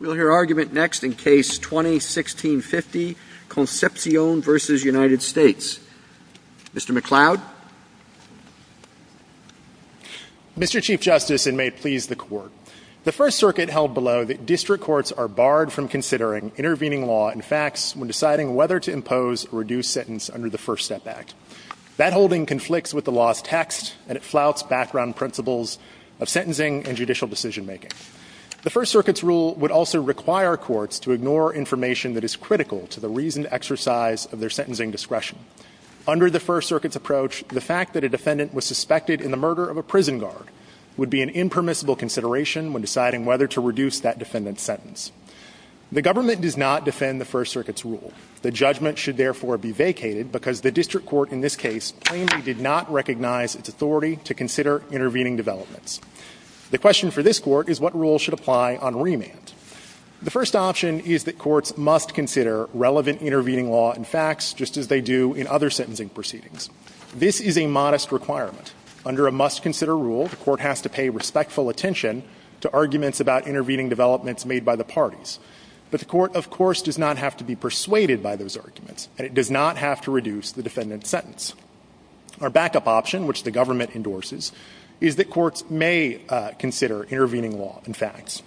We'll hear argument next in Case 20-1650, Concepcion v. United States. Mr. McCloud? Mr. Chief Justice, and may it please the Court, the First Circuit held below that district courts are barred from considering intervening law and facts when deciding whether to impose a reduced sentence under the first setback. That holding conflicts with the law's text, and it flouts background principles of sentencing and judicial decision-making. The First Circuit's rule would also require courts to ignore information that is critical to the reasoned exercise of their sentencing discretion. Under the First Circuit's approach, the fact that a defendant was suspected in the murder of a prison guard would be an impermissible consideration when deciding whether to reduce that defendant's sentence. The government does not defend the First Circuit's rule. The judgment should therefore be vacated because the district court in this case plainly did not recognize its authority to consider intervening developments. The question for this court is what rule should apply on remand. The first option is that courts must consider relevant intervening law and facts just as they do in other sentencing proceedings. This is a modest requirement. Under a must-consider rule, the court has to pay respectful attention to arguments about intervening developments made by the parties. But the court, of course, does not have to be persuaded by those arguments, and it does not have to reduce the defendant's sentence. Our backup option, which the government endorses, is that courts may consider intervening law and facts.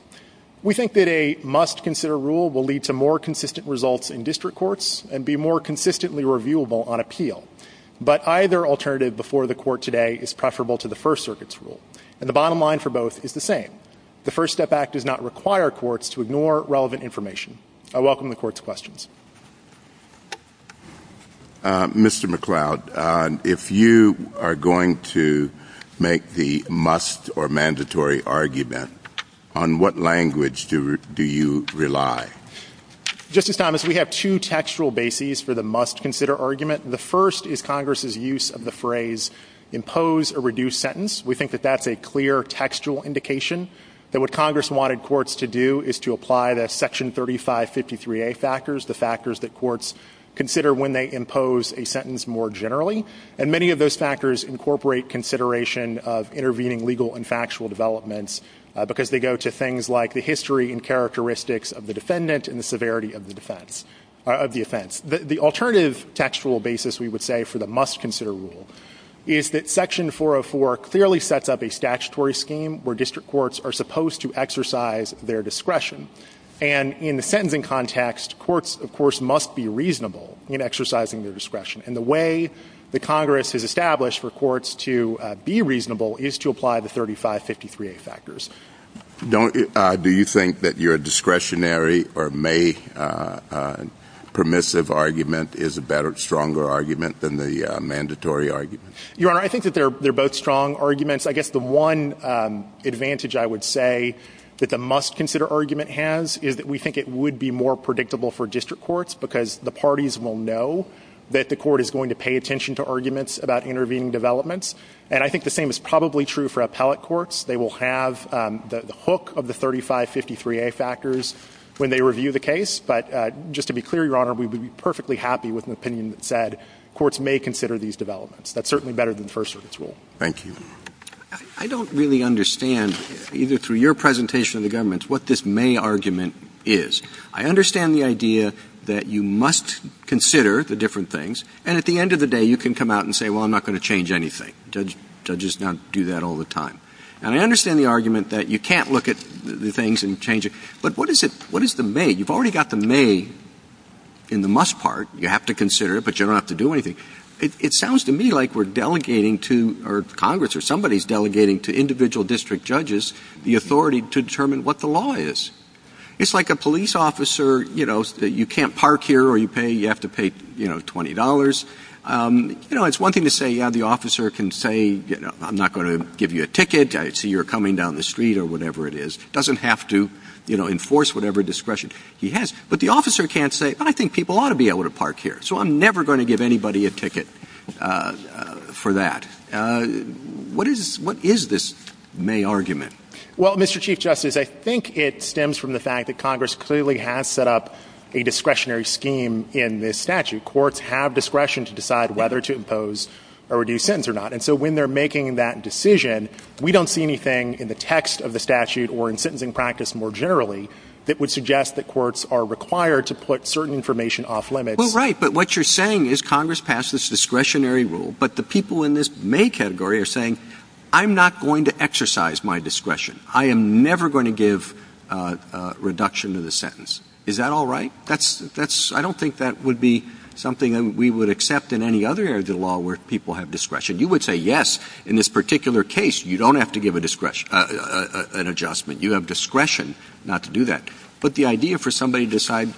We think that a must-consider rule will lead to more consistent results in district courts and be more consistently reviewable on appeal. But either alternative before the court today is preferable to the First Circuit's rule. And the bottom line for both is the same. The First Step Act does not require courts to ignore relevant information. I welcome the court's questions. Mr. McCloud, if you are going to make the must- or mandatory argument, on what language do you rely? Justice Thomas, we have two textual bases for the must-consider argument. The first is Congress's use of the phrase, impose a reduced sentence. We think that that's a clear textual indication that what Congress wanted courts to do is to apply the Section 3553A factors, the factors that courts consider when they impose a sentence more generally. And many of those factors incorporate consideration of intervening legal and factual developments because they go to things like the history and characteristics of the defendant and the severity of the offense. The alternative textual basis, we would say, for the must-consider rule is that Section 404 clearly sets up a statutory scheme where district courts are supposed to exercise their discretion. And in the sentencing context, courts, of course, must be reasonable in exercising their discretion. And the way that Congress has established for courts to be reasonable is to apply the 3553A factors. Do you think that your discretionary or may permissive argument is a better, stronger argument than the mandatory argument? Your Honor, I think that they're both strong arguments. I guess the one advantage I would say that the must-consider argument has is that we think it would be more predictable for district courts because the parties will know that the court is going to pay attention to arguments about intervening developments. And I think the same is probably true for appellate courts. They will have the hook of the 3553A factors when they review the case. But just to be clear, Your Honor, we would be perfectly happy with an opinion that said courts may consider these developments. That's certainly better than first-service rule. Thank you. I don't really understand, either through your presentation or the government's, what this may argument is. I understand the idea that you must consider the different things. And at the end of the day, you can come out and say, well, I'm not going to change anything. Judges don't do that all the time. And I understand the argument that you can't look at the things and change it. But what is it? What is the may? You've already got the may in the must part. You have to consider it, but you don't have to do anything. It sounds to me like we're delegating to, or Congress or somebody's delegating to individual district judges the authority to determine what the law is. It's like a police officer, you know, that you can't park here or you pay, you have to pay, you know, $20. You know, it's one thing to say, yeah, the officer can say, you know, I'm not going to give you a ticket. I see you're coming down the street or whatever it is. Doesn't have to, you know, enforce whatever discretion he has. But the officer can't say, I think people ought to be able to park here. So I'm never going to give anybody a ticket for that. What is, what is this may argument? Well, Mr. Chief Justice, I think it stems from the fact that Congress clearly has set up a discretionary scheme in this statute. Courts have discretion to decide whether to impose a reduced sentence or not. And so when they're making that decision, we don't see anything in the text of the statute or in sentencing practice more generally that would suggest that courts are required to put certain information off limits. Well, right. But what you're saying is Congress passes discretionary rule, but the people in this main category are saying, I'm not going to exercise my discretion. I am never going to give a reduction to the sentence. Is that all right? That's, that's, I don't think that would be something that we would accept in any other area of the law where people have discretion. You would say, yes, in this particular case, you don't have to give a discretion, an adjustment. You have discretion not to do that. But the idea for somebody to decide,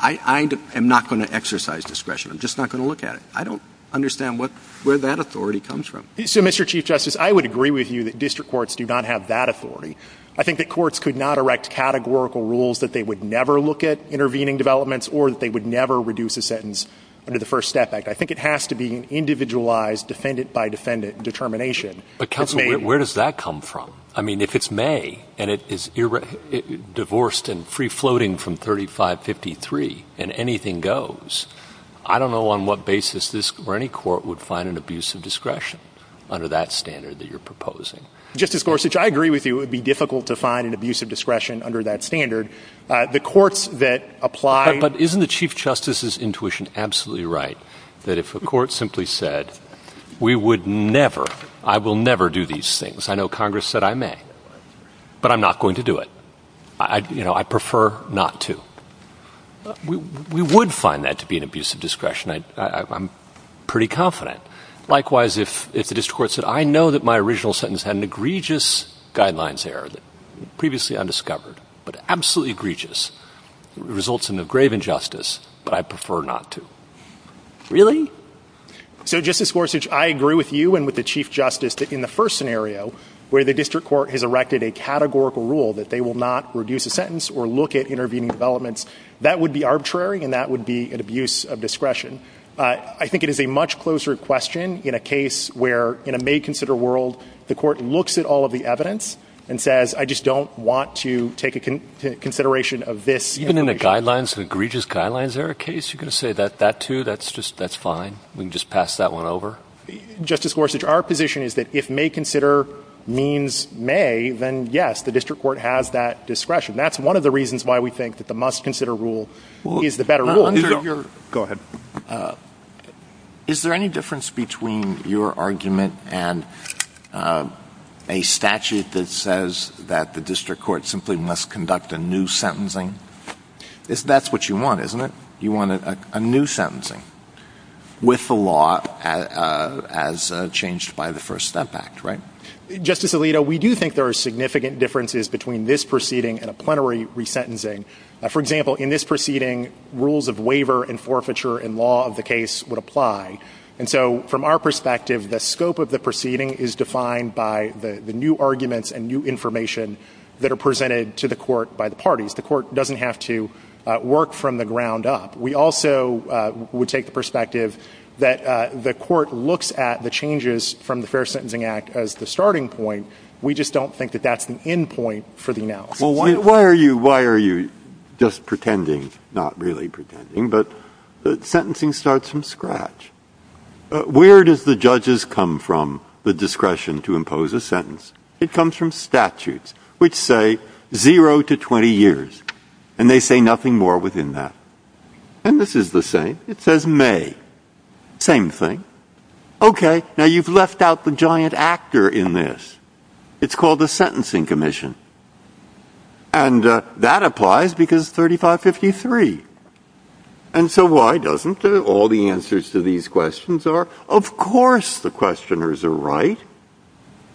I am not going to exercise discretion. I'm just not going to look at it. I don't understand what, where that authority comes from. So, Mr. Chief Justice, I would agree with you that district courts do not have that authority. I think that courts could not erect categorical rules that they would never look at intervening developments or that they would never reduce a sentence under the First Step Act. I think it has to be an individualized defendant-by-defendant determination. But counsel, where does that come from? I mean, if it's May, and it is divorced and free-floating from 3553, and anything goes, I don't know on what basis this, or any court, would find an abuse of discretion under that standard that you're proposing. Justice Gorsuch, I agree with you. It would be difficult to find an abuse of discretion under that standard. The courts that apply... But isn't the Chief Justice's intuition absolutely right that if a court simply said, we would never, I will never do these things. I know Congress said I may, but I'm not going to do it. You know, I prefer not to. We would find that to be an abuse of discretion. I'm pretty confident. Likewise, if the district court said, I know that my original sentence had an egregious guidelines error, previously undiscovered, but absolutely egregious. It results in a grave injustice, but I prefer not to. Really? So, Justice Gorsuch, I agree with you and with the Chief Justice that in the first scenario, where the district court has erected a categorical rule that they will not reduce a sentence or look at intervening developments, that would be arbitrary and that would be an abuse of discretion. I think it is a much closer question in a case where, in a made-consider world, the court looks at all of the evidence and says, I just don't want to take a consideration of this. Even in the guidelines, the egregious guidelines error case, you're going to say that too? That's just, that's fine? We can just pass that one over? Justice Gorsuch, our position is that if make-consider means may, then yes, the district court has that discretion. That's one of the reasons why we think that the must-consider rule is the better rule. Go ahead. Is there any difference between your argument and a statute that says that the district court simply must conduct a new sentencing? That's what you want, isn't it? You want a new sentencing with the law as changed by the First Step Act, right? Justice Alito, we do think there are significant differences between this proceeding and a plenary resentencing. For example, in this proceeding, rules of waiver and forfeiture in law of the case would apply. And so, from our perspective, the scope of the proceeding is defined by the new arguments and new information that are presented to the court by the parties. The court doesn't have to work from the ground up. We also would take the perspective that the court looks at the changes from the Fair Sentencing Act as the starting point. We just don't think that that's an end point for the now. Well, why are you just pretending, not really pretending, but sentencing starts from scratch. Where does the judges come from, the discretion to impose a sentence? It comes from statutes, which say zero to 20 years, and they say nothing more within that. And this is the same. It says May. Same thing. Okay, now you've left out the giant actor in this. It's called the Sentencing Commission. And that applies because 3553. And so, why doesn't it? All the answers to these questions are, of course, the questioners are right.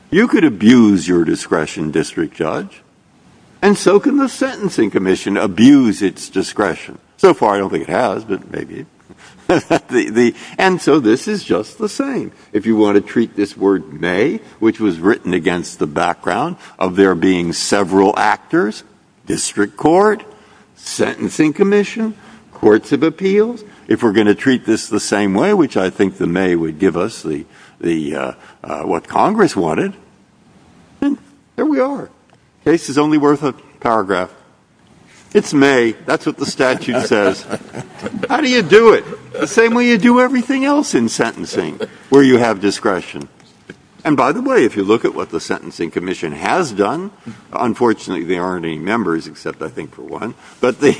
You could abuse your discretion, District Judge, and so can the Sentencing Commission abuse its discretion. So far, I don't think it has, but maybe. And so, this is just the same. If you want to treat this word May, which was written against the background of there being several actors, District Court, Sentencing Commission, Courts of Appeals, if we're going to treat this the same way, which I think the May would give us what Congress wanted, then there we are. Case is only worth a paragraph. It's May. That's what the statute says. How do you do it? The same way you do everything else in sentencing, where you have discretion. And by the way, if you look at what the Sentencing Commission has done, unfortunately, there aren't any members except, I think, for one. But its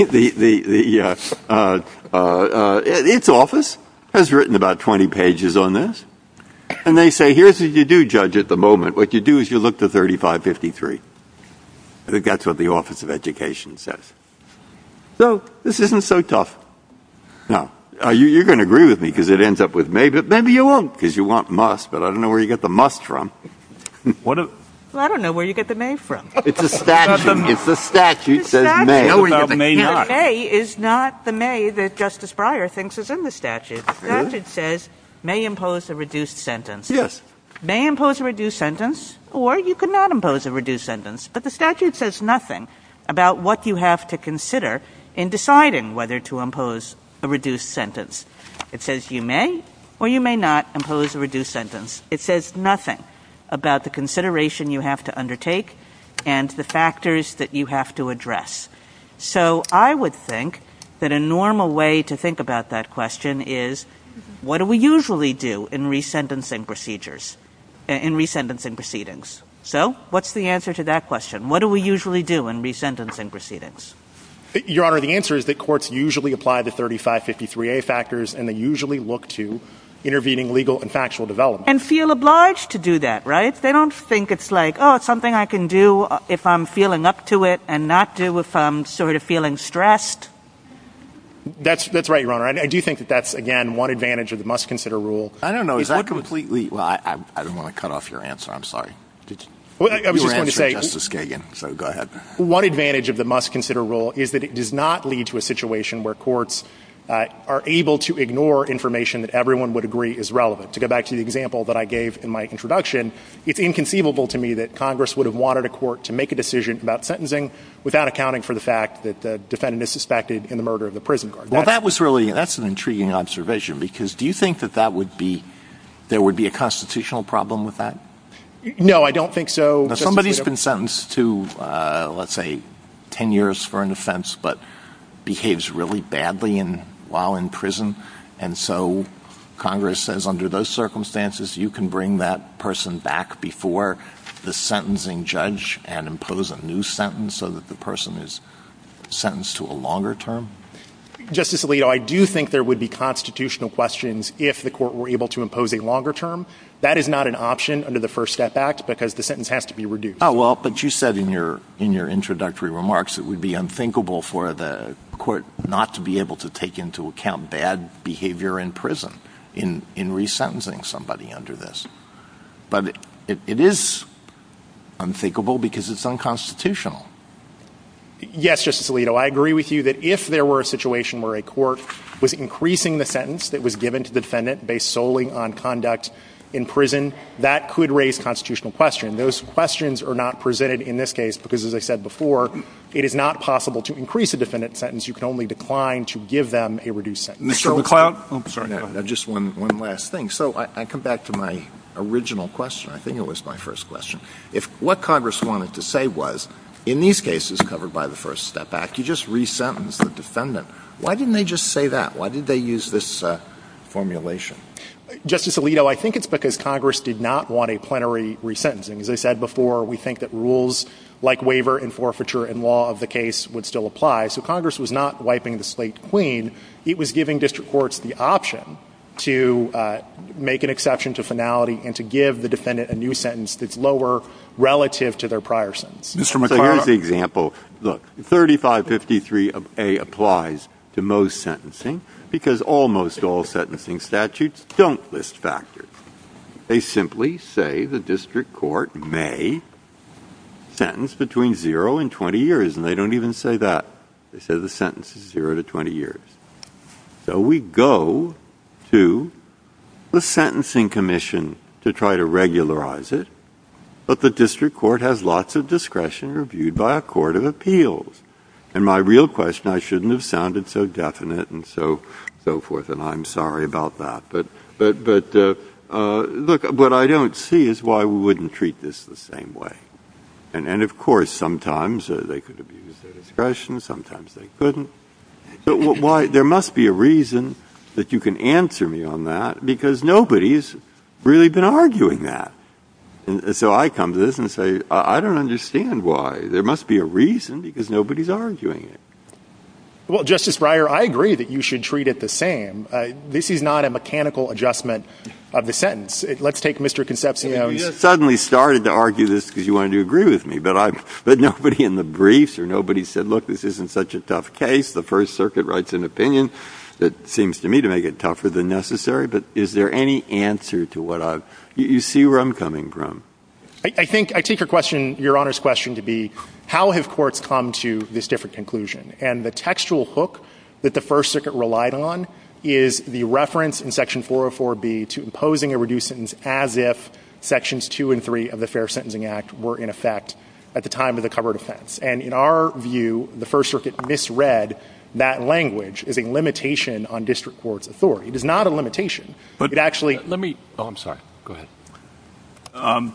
office has written about 20 pages on this. And they say, here's what you do, Judge, at the moment. What you do is you look to 3553. I think that's what the Office of Education says. So this isn't so tough. Now, you're going to agree with me because it ends up with May, but maybe you won't because you want must, but I don't know where you get the must from. I don't know where you get the May from. It's a statute. It's a statute. The May is not the May that Justice Breyer thinks is in the statute. The statute says, may impose a reduced sentence. Yes. May impose a reduced sentence, or you could not impose a reduced sentence. But the statute says nothing about what you have to consider in deciding whether to impose a reduced sentence. It says you may or you may not impose a reduced sentence. It says nothing about the consideration you have to undertake and the factors that you have to address. So I would think that a normal way to think about that question is, what do we usually do in resentencing procedures, in resentencing proceedings? So, what's the answer to that question? What do we usually do in resentencing proceedings? Your Honor, the answer is that courts usually apply the 3553A factors and they usually look to intervening legal and factual development. And feel obliged to do that, right? They don't think it's like, oh, something I can do if I'm feeling up to it and not do if I'm sort of feeling stressed. That's right, Your Honor. I do think that that's, again, one advantage of the must consider rule. I don't know. Is that completely... Well, I don't want to cut off your answer. I'm sorry. We were answering Justice Kagan, so go ahead. One advantage of the must consider rule is that it does not lead to a situation where courts are able to ignore information that everyone would agree is relevant. To go back to the example that I gave in my introduction, it's inconceivable to me that Congress would have wanted a court to make a decision about sentencing without accounting for the fact that the defendant is suspected in the murder of the prison guard. Well, that was really, that's an intriguing observation because do you think that that would be, there would be a constitutional problem with that? No, I don't think so. Somebody's been sentenced to, let's say, 10 years for an offense, but behaves really badly while in prison. And so Congress says under those circumstances, you can bring that person back before the sentencing judge and impose a new sentence so that the person is sentenced to a longer term? Justice Alito, I do think there would be constitutional questions if the court were able to impose a longer term. That is not an option under the First Step Act because the sentence has to be reduced. Oh, well, but you said in your introductory remarks it would be unthinkable for the court not to be able to take into account bad behavior in prison in resentencing somebody under this. But it is unthinkable because it's unconstitutional. Yes, Justice Alito, I agree with you that if there were a situation where a court was increasing the sentence that was given to the defendant based solely on conduct in prison, that could raise constitutional questions. Those questions are not presented in this case because, as I said before, it is not possible to increase a defendant's sentence. You can only decline to give them a reduced sentence. Mr. McCloud? Sorry, Ned, just one last thing. So I come back to my original question. I think it was my first question. If what Congress wanted to say was, in these cases covered by the First Step Act, you just resentenced the defendant. Why didn't they just say that? Why did they use this formulation? Justice Alito, I think it's because Congress did not want a plenary resentencing. As I said before, we think that rules like waiver and forfeiture in law of the case would still apply. So Congress was not wiping the slate clean. It was giving district courts the option to make an exception to finality and to give the defendant a new sentence that's lower relative to their prior sentence. Mr. McCloud? Here's the example. Look, 3553A applies to most sentencing because almost all sentencing statutes don't list factors. They simply say the district court may sentence between zero and 20 years, and they don't even say that. They say the sentence is zero to 20 years. So we go to the sentencing commission to try to regularize it, but the district court has lots of discretion reviewed by a court of appeals. And my real question, I shouldn't have sounded so definite and so forth, and I'm sorry about that. But look, what I don't see is why we wouldn't treat this the same way. And of course, sometimes they could abuse their discretion, sometimes they couldn't. But there must be a reason that you can answer me on that because nobody's really been arguing that. So I come to this and say, I don't understand why. There must be a reason because nobody's arguing it. Well, Justice Breyer, I agree that you should treat it the same. This is not a mechanical adjustment of the sentence. Let's take Mr. Concepcion. You suddenly started to argue this because you wanted to agree with me, but nobody in the briefs or nobody said, look, this isn't such a tough case. The First Circuit writes an opinion that seems to me to make it tougher than necessary. But is there any answer to what I've... You see where I'm coming from. I think, I take your question, Your Honor's question to be, how have courts come to this different conclusion? And the textual hook that the First Circuit relied on is the reference in Section 404B to imposing a reduced sentence as if Sections 2 and 3 of the Fair Sentencing Act were in effect at the time of the covered offense. And in our view, the First Circuit misread that language as a limitation on district court's authority. It is not a limitation, but it actually... Oh, I'm sorry. Go ahead.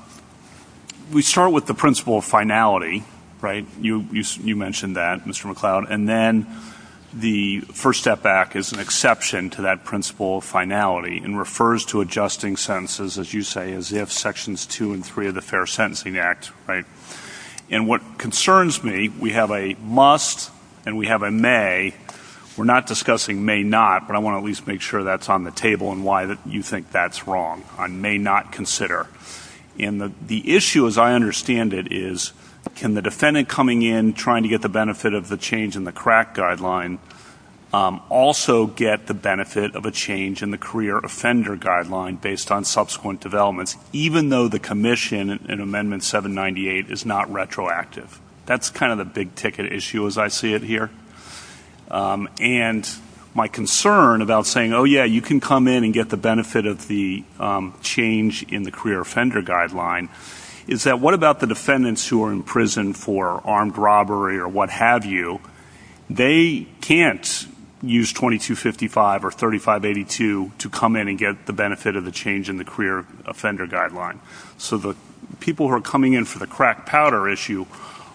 We start with the principle of finality, right? You mentioned that, Mr. McCloud. And then the First Step Act is an exception to that principle of finality and refers to adjusting sentences, as you say, as if Sections 2 and 3 of the Fair Sentencing Act, right? And what concerns me, we have a must and we have a may. We're not discussing may not, but I want to at least make sure that's on the table and why you think that's wrong on may not consider. And the issue, as I understand it, is can the defendant coming in trying to get the benefit of the change in the crack guideline also get the benefit of a change in the career offender guideline based on subsequent developments, even though the commission in Amendment 798 is not retroactive? That's kind of the big-ticket issue as I see it here. And my concern about saying, oh, yeah, you can come in and get the benefit of the change in the career offender guideline is that what about the defendants who are in prison for armed robbery or what have you? They can't use 2255 or 3582 to come in and get the benefit of the change in the career offender guideline. So the people who are coming in for the crack powder issue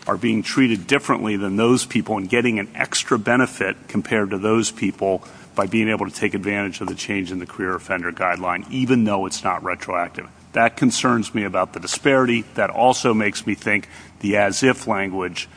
are being treated differently than those people and getting an extra benefit compared to those people by being able to take advantage of the change in the career offender guideline, even though it's not retroactive. That concerns me about the disparity. That also makes me think the as-if language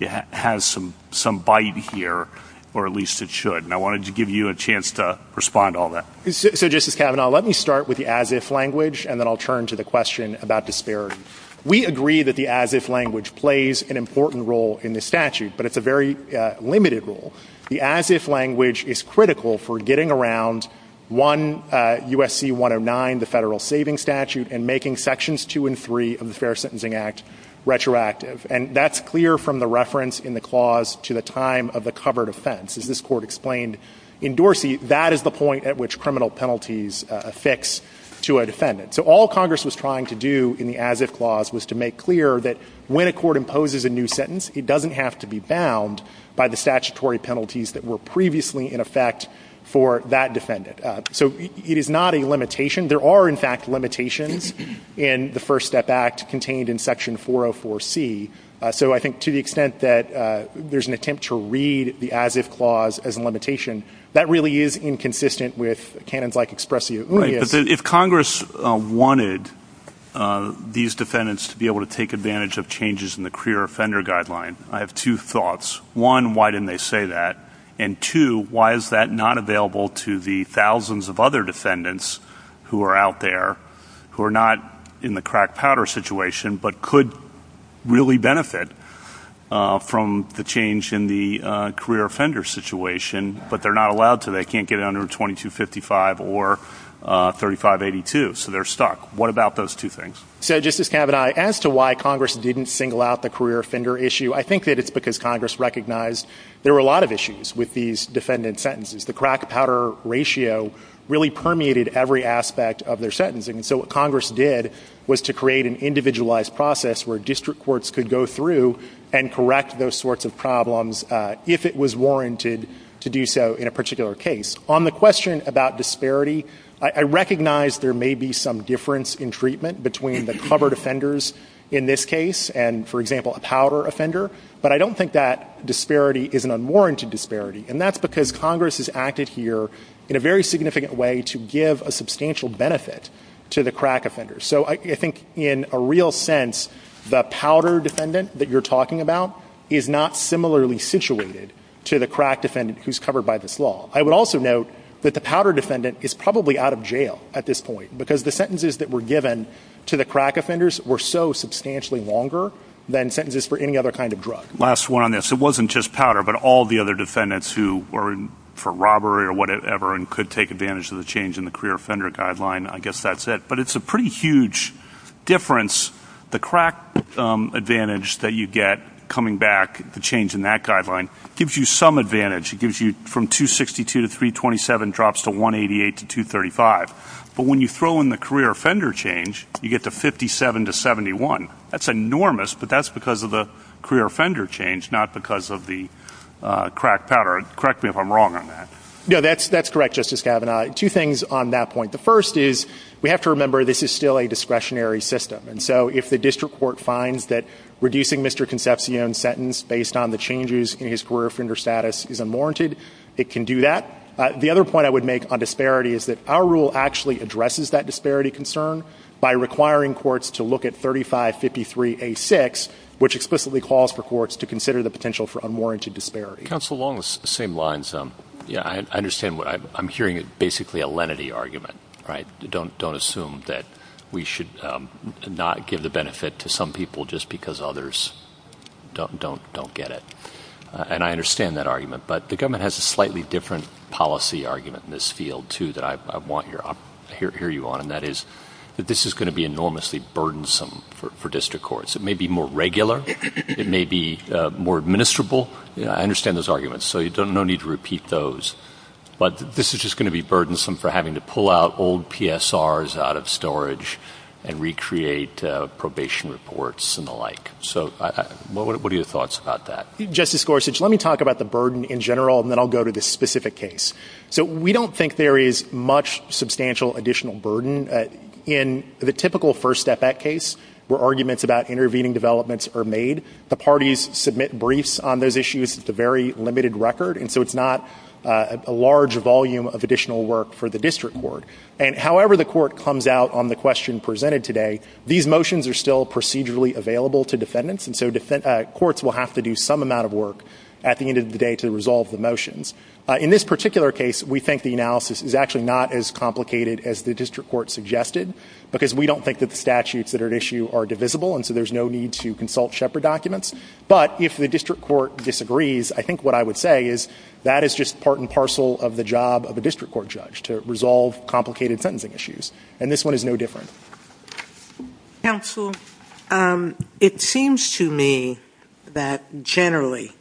has some bite here, or at least it should. And I wanted to give you a chance to respond to all that. So, Justice Kavanaugh, let me start with the as-if language, and then I'll turn to the question about disparity. We agree that the as-if language plays an important role in the statute, but it's a very limited role. The as-if language is critical for getting around U.S.C. 109, the federal saving statute, and making sections two and three of the Fair Sentencing Act retroactive. And that's clear from the reference in the clause to the time of the covered offense. As this court explained in Dorsey, that is the point at which criminal penalties affix to a defendant. So all Congress was trying to do in the as-if clause was to make clear that when a court imposes a new sentence, it doesn't have to be bound by the statutory penalties that were previously in effect for that defendant. So it is not a limitation. There are, in fact, limitations in the First Step Act contained in section 404C. So I think to the extent that there's an attempt to read the as-if clause as a limitation, that really is inconsistent with canons like expressio unia. If Congress wanted these defendants to be able to take advantage of changes in the career offender guideline, I have two thoughts. One, why didn't they say that? And two, why is that not available to the thousands of other defendants who are out there who are not in the crack-powder situation but could really benefit from the change in the career offender situation, but they're not allowed to. They can't get under 2255 or 3582. So they're stuck. What about those two things? So Justice Kavanaugh, as to why Congress didn't single out the career offender issue, I think that it's because Congress recognized there were a lot of issues with these defendant sentences. The crack-powder ratio really permeated every aspect of their sentencing. So what Congress did was to create an individualized process where district courts could go through and correct those sorts of problems if it was warranted to do so in a particular case. On the question about disparity, I recognize there may be some difference in treatment between the covered offenders in this case and, for example, a powder offender. But I don't think that disparity is an unwarranted disparity. And that's because Congress has acted here in a very significant way to give a substantial benefit to the crack offenders. So I think, in a real sense, the powder defendant that you're talking about is not similarly situated to the crack defendant who's covered by this law. I would also note that the powder defendant is probably out of jail at this point, because the sentences that were given to the crack offenders were so substantially longer than sentences for any other kind of drug. Last one on this. It wasn't just powder, but all the other defendants who were in for robbery or whatever and could take advantage of the change in the career offender guideline. I guess that's it. But it's a pretty huge difference. The crack advantage that you get coming back, the change in that guideline, gives you some advantage. It gives you from 262 to 327 drops to 188 to 235. But when you throw in the career offender change, you get to 57 to 71. That's enormous, but that's because of the career offender change, not because of the crack pattern. Correct me if I'm wrong on that. Yeah, that's correct, Justice Kavanaugh. Two things on that point. The first is we have to remember this is still a discretionary system. And so if the district court finds that reducing Mr. Concepcion's sentence based on the changes in his career offender status is unwarranted, it can do that. The other point I would make on disparity is that our rule actually addresses that disparity concern by requiring courts to look at 3553A6, which explicitly calls for courts to consider the potential for unwarranted disparity. Counsel Long, the same lines. Yeah, I understand what I'm hearing is basically a lenity argument. Don't assume that we should not give the benefit to some people just because others don't get it. And I understand that argument. But the government has a slightly different policy argument in this field, too, that I want to hear you on. And that is that this is going to be enormously burdensome for district courts. It may be more regular. It may be more administrable. I understand those arguments. So there's no need to repeat those. But this is just going to be burdensome for having to pull out old PSRs out of storage and recreate probation reports and the like. So what are your thoughts about that? Justice Gorsuch, let me talk about the burden in general. And then I'll go to the specific case. So we don't think there is much substantial additional burden. In the typical First Step Act case, where arguments about intervening developments are made, the parties submit briefs on those issues. It's a very limited record. And so it's not a large volume of additional work for the district court. And however the court comes out on the question presented today, these motions are still procedurally available to defendants. And so courts will have to do some amount of work at the end of the day to resolve the motions. In this particular case, we think the analysis is actually not as complicated as the district court suggested. Because we don't think that the statutes that are at issue are divisible. And so there's no need to consult Shepard documents. But if the district court disagrees, I think what I would say is that is just part and parcel of the job of a district court judge to resolve complicated sentencing issues. And this one is no different. Counsel, it seems to me that generally,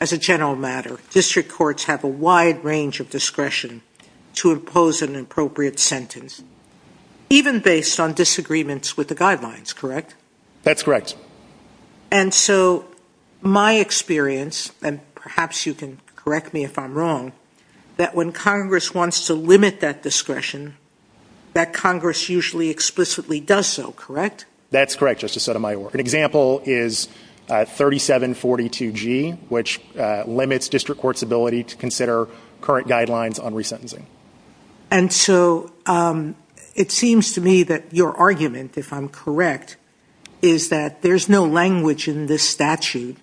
as a general matter, district courts have a wide range of discretion to impose an appropriate sentence. Even based on disagreements with the guidelines, correct? That's correct. And so my experience, and perhaps you can correct me if I'm wrong, that when Congress wants to limit that discretion, that Congress usually explicitly does so, correct? That's correct, Justice Sotomayor. An example is 3742G, which limits district court's ability to consider current guidelines on resentencing. And so it seems to me that your argument, if I'm correct, is that there's no language in this statute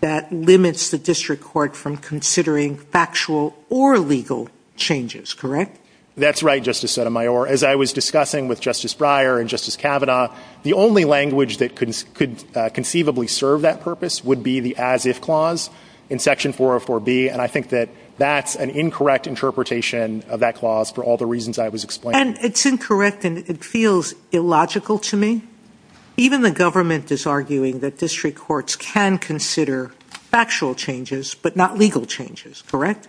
that limits the district court from considering factual or legal changes, correct? That's right, Justice Sotomayor. As I was discussing with Justice Breyer and Justice Kavanaugh, the only language that could conceivably serve that purpose would be the as-if clause in section 404B. And I think that that's an incorrect interpretation of that clause for all the reasons I was explaining. And it's incorrect, and it feels illogical to me. Even the government is arguing that district courts can consider factual changes, but not legal changes, correct?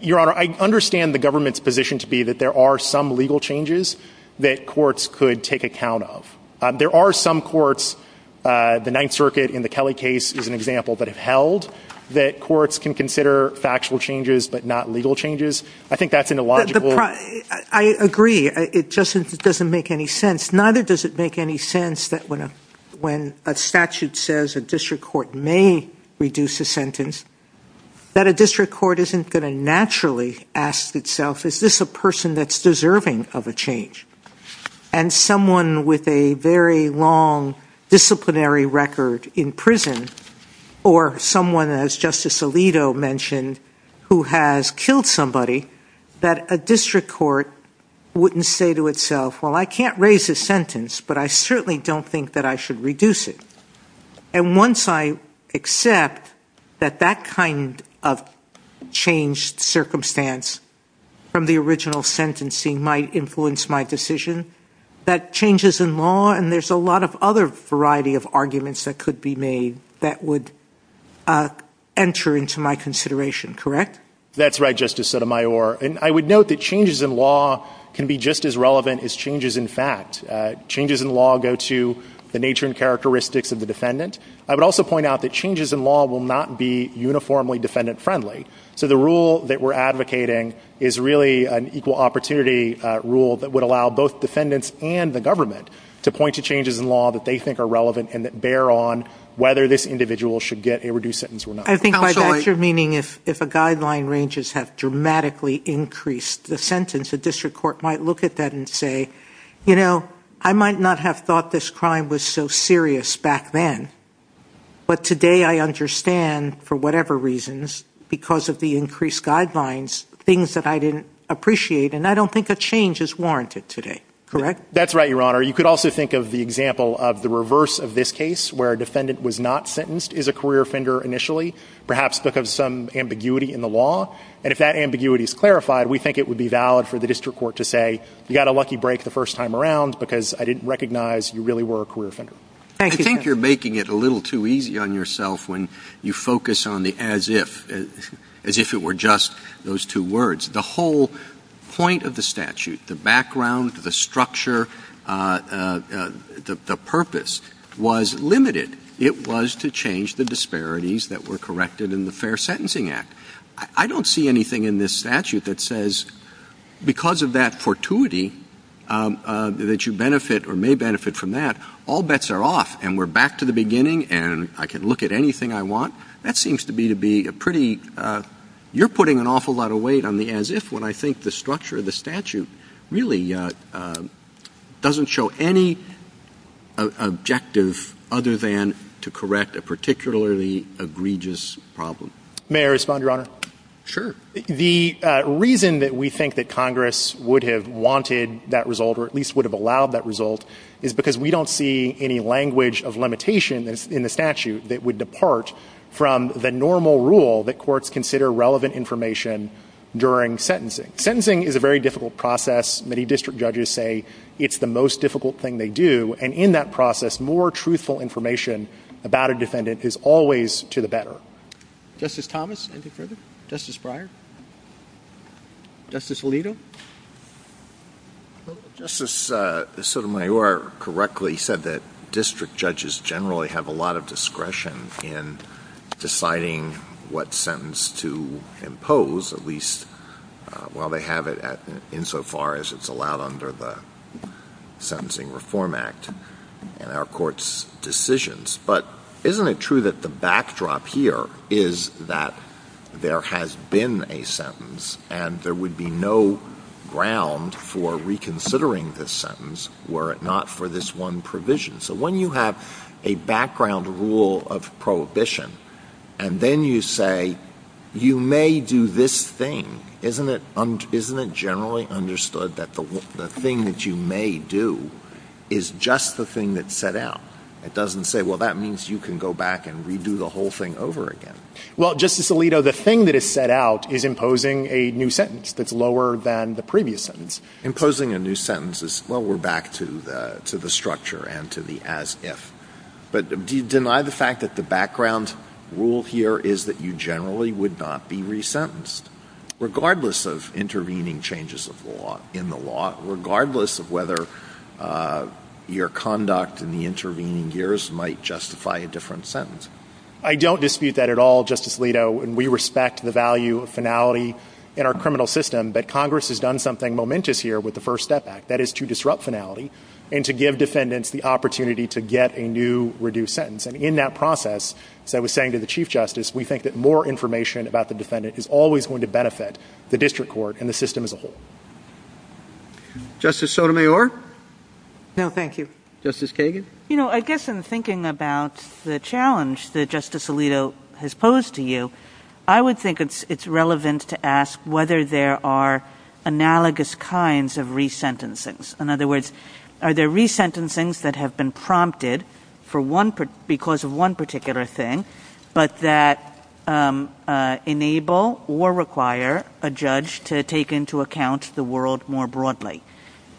Your Honor, I understand the government's position to be that there are some legal changes that courts could take account of. There are some courts, the Ninth Circuit in the Kelly case is an example, that have held that courts can consider factual changes, but not legal changes. I think that's an illogical- I agree. It just doesn't make any sense. Neither does it make any sense that when a statute says a district court may reduce a sentence, that a district court isn't going to naturally ask itself, is this a person that's deserving of a change? And someone with a very long disciplinary record in prison, or someone, as Justice Alito mentioned, who has killed somebody, that a district court wouldn't say to itself, well, I can't raise a sentence, but I certainly don't think that I should reduce it. And once I accept that that kind of changed circumstance from the original sentencing might influence my decision, that changes in law, and there's a lot of other variety of arguments that could be made that would enter into my consideration, correct? That's right, Justice Sotomayor. And I would note that changes in law can be just as relevant as changes in fact. Changes in law go to the nature and characteristics of the defendant. I would also point out that changes in law will not be uniformly defendant-friendly. So the rule that we're advocating is really an equal opportunity rule that would allow both defendants and the government to point to changes in law that they think are relevant and that bear on whether this individual should get a reduced sentence or not. I think by that you're meaning if a guideline ranges have dramatically increased the sentence, a district court might look at that and say, you know, I might not have thought this crime was so serious back then, but today I understand, for whatever reasons, because of the increased guidelines, things that I didn't appreciate, and I don't think a change is warranted today, correct? That's right, Your Honor. You could also think of the example of the reverse of this case, where a defendant was not sentenced is a career offender initially, perhaps because of some ambiguity in the law. And if that ambiguity is clarified, we think it would be valid for the district court to say, you got a lucky break the first time around because I didn't recognize you really were a career offender. Thank you. I think you're making it a little too easy on yourself when you focus on the as if, as if it were just those two words. The whole point of the statute, the background, the structure, the purpose was limited. It was to change the disparities that were corrected in the Fair Sentencing Act. I don't see anything in this statute that says, because of that fortuity that you benefit or may benefit from that, all bets are off and we're back to the beginning and I can look at anything I want. That seems to be a pretty, you're putting an awful lot of weight on the as if when I think the structure of the statute really doesn't show any objective other than to correct a particularly egregious problem. May I respond, Your Honor? Sure. The reason that we think that Congress would have wanted that result or at least would have allowed that result is because we don't see any language of limitation in the statute that would depart from the normal rule that courts consider relevant information during sentencing. Sentencing is a very difficult process. Many district judges say it's the most difficult thing they do. And in that process, more truthful information about a defendant is always to the better. Justice Thomas, any further? Justice Breyer? Justice Alito? Justice Sotomayor correctly said that district judges generally have a lot of discretion in deciding what sentence to impose, at least while they have it insofar as it's allowed under the Sentencing Reform Act and our court's decisions. But isn't it true that the backdrop here is that there has been a sentence and there would be no ground for reconsidering the sentence were it not for this one provision. So when you have a background rule of prohibition and then you say, you may do this thing, isn't it generally understood that the thing that you may do is just the thing that's set out? It doesn't say, well, that means you can go back and redo the whole thing over again. Well, Justice Alito, the thing that is set out is imposing a new sentence that's lower than the previous sentence. Imposing a new sentence is lower back to the structure and to the as if. But do you deny the fact that the background rule here is that you generally would not be resentenced regardless of intervening changes in the law, regardless of whether your conduct in the intervening years might justify a different sentence? I don't dispute that at all, Justice Alito, and we respect the value of finality in our criminal system, but Congress has done something momentous here with the First Step Act, that is to disrupt finality and to give defendants the opportunity to get a new reduced sentence. And in that process, as I was saying to the Chief Justice, we think that more information about the defendant is always going to benefit the district court and the system as a whole. Justice Sotomayor? No, thank you. Justice Kagan? You know, I guess I'm thinking about the challenge that Justice Alito has posed to you. I would think it's relevant to ask whether there are analogous kinds of resentencings. In other words, are there resentencings that have been prompted because of one particular thing, but that enable or require a judge to take into account the world more broadly?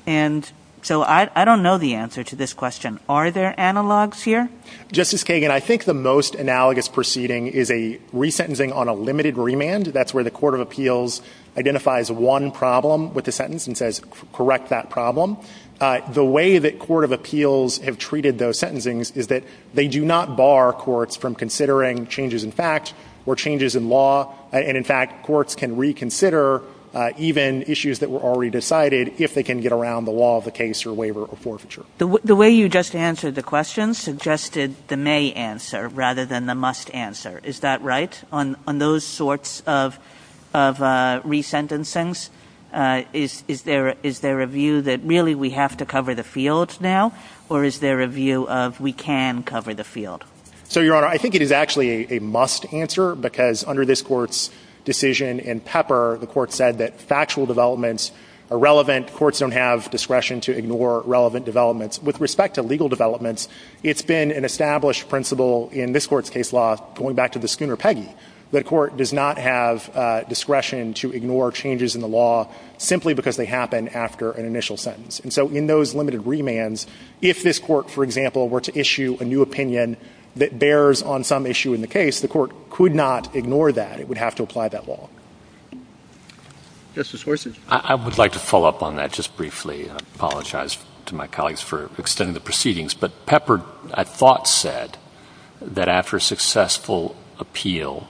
And so I don't know the answer to this question. Are there analogs here? Justice Kagan, I think the most analogous proceeding is a resentencing on a limited remand. That's where the Court of Appeals identifies one problem with the sentence and says, correct that problem. The way that Court of Appeals have treated those sentencings is that they do not bar courts from considering changes in facts or changes in law. And in fact, courts can reconsider even issues that were already decided if they can get around the law of the case or waiver or forfeiture. The way you just answered the question suggested the may answer rather than the must answer. Is that right? On those sorts of resentencings, is there a view that really we have to cover the fields now or is there a view of we can cover the field? So, Your Honor, I think it is actually a must answer because under this court's decision in Pepper, the court said that factual developments are relevant. Courts don't have discretion to ignore relevant developments. With respect to legal developments, it's been an established principle in this court's case law, going back to the schooner Peggy, that a court does not have discretion to ignore changes in the law simply because they happen after an initial sentence. And so in those limited remands, if this court, for example, were to issue a new opinion that bears on some issue in the case, the court could not ignore that. It would have to apply that law. Justice Gorsuch. I would like to follow up on that just briefly. I apologize to my colleagues for extending the proceedings, but Pepper, I thought, said that after a successful appeal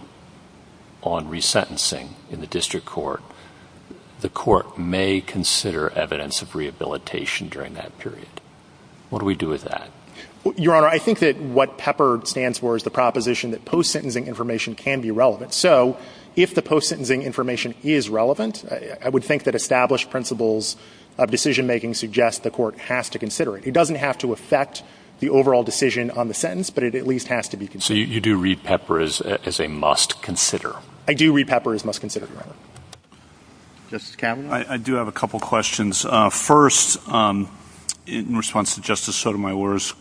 on resentencing in the district court, the court may consider evidence of rehabilitation during that period. What do we do with that? Your Honor, I think that what Pepper stands for is the proposition that post-sentencing information can be relevant. So, if the post-sentencing information is relevant, I would think that established principles of decision-making suggest the court has to consider it. It doesn't have to affect the overall decision on the sentence, but it at least has to be considered. So, you do read Pepper as a must-consider? I do read Pepper as a must-consider, Your Honor. Justice Kavanaugh. I do have a couple questions. First, in response to Justice Sotomayor's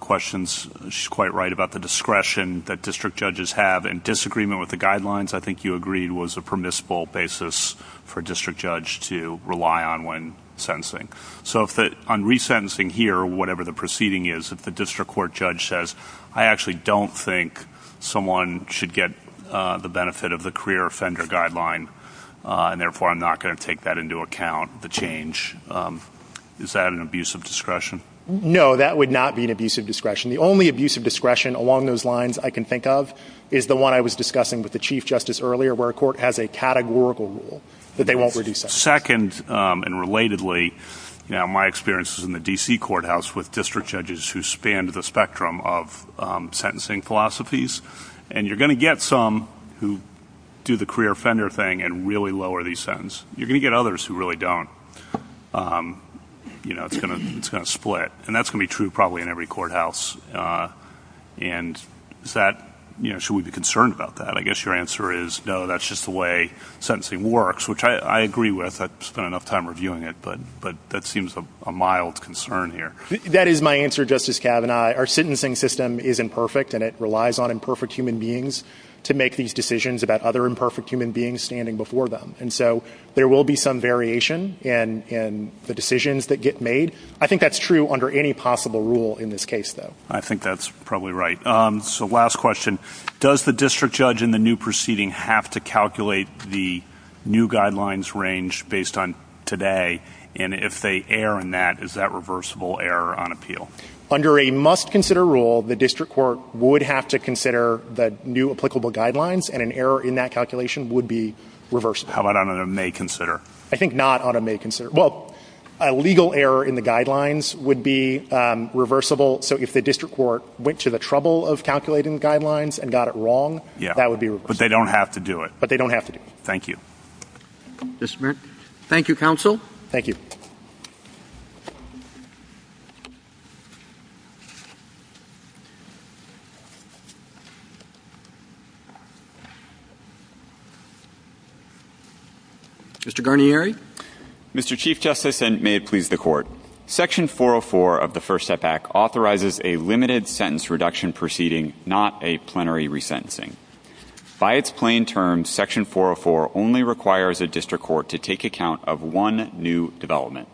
questions, she's quite right about the discretion that district judges have and disagreement with the guidelines, I think you agreed was a permissible basis for a district judge to rely on when sentencing. So, on resentencing here, whatever the proceeding is, if the district court judge says, I actually don't think someone should get the benefit of the career offender guideline, and therefore I'm not gonna take that into account, the change, is that an abuse of discretion? No, that would not be an abuse of discretion. The only abuse of discretion along those lines I can think of is the one I was discussing with the Chief Justice earlier, where a court has a categorical rule that they won't reduce that. Second, and relatedly, now my experience is in the D.C. courthouse with district judges who span the spectrum of sentencing philosophies, and you're gonna get some who do the career offender thing and really lower these sentences. You're gonna get others who really don't. You know, it's gonna split. And that's gonna be true probably in every courthouse. And is that, you know, should we be concerned about that? I guess your answer is, no, that's just the way sentencing works, which I agree with. I've spent enough time reviewing it, but that seems a mild concern here. That is my answer, Justice Kavanaugh. Our sentencing system is imperfect and it relies on imperfect human beings to make these decisions about other imperfect human beings standing before them. And so there will be some variation in the decisions that get made. I think that's true under any possible rule in this case, though. I think that's probably right. So last question. Does the district judge in the new proceeding have to calculate the new guidelines range based on today? And if they err in that, is that reversible error on appeal? Under a must consider rule, the district court would have to consider the new applicable guidelines and an error in that calculation would be reversible. How about on a may consider? I think not on a may consider. Well, a legal error in the guidelines would be reversible. So if the district court went to the trouble of calculating the guidelines and got it wrong, that would be reversible. But they don't have to do it. But they don't have to do it. Thank you. Thank you, counsel. Thank you. Mr. Guarnieri. Mr. Chief Justice and may it please the court. Section 404 of the First Step Act authorizes a limited sentence reduction proceeding, not a plenary resentencing. By its plain terms, section 404 only requires a district court to take account of one new development,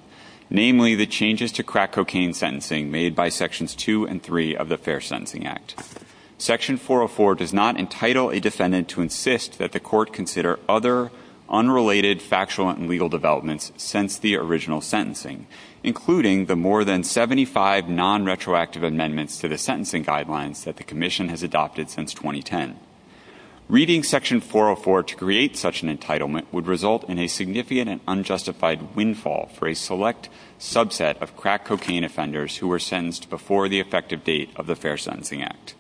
namely the changes to crack cocaine sentencing made by sections two and three of the Fair Sentencing Act. Section 404 does not entitle a defendant to insist that the court consider other unrelated factual and legal developments since the original sentencing, including the more than 75 non-retroactive amendments to the sentencing guidelines that the commission has adopted since 2010. Reading section 404 to create such an entitlement would result in a significant and unjustified windfall for a select subset of crack cocaine offenders who were sentenced before the effective date of the Fair Sentencing Act.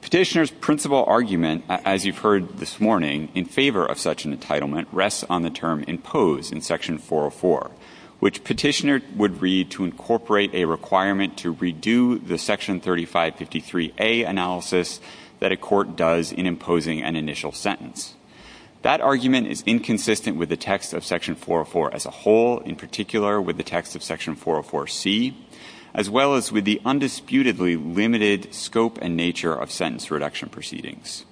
Petitioner's principal argument, as you've heard this morning, in favor of such an entitlement rests on the term imposed in section 404, which petitioner would read to incorporate a requirement to redo the section 3553A analysis that a court does in imposing an initial sentence. That argument is inconsistent with the text of section 404 as a whole, in particular with the text of section 404C, as well as with the undisputedly limited scope and nature of sentence reduction proceedings.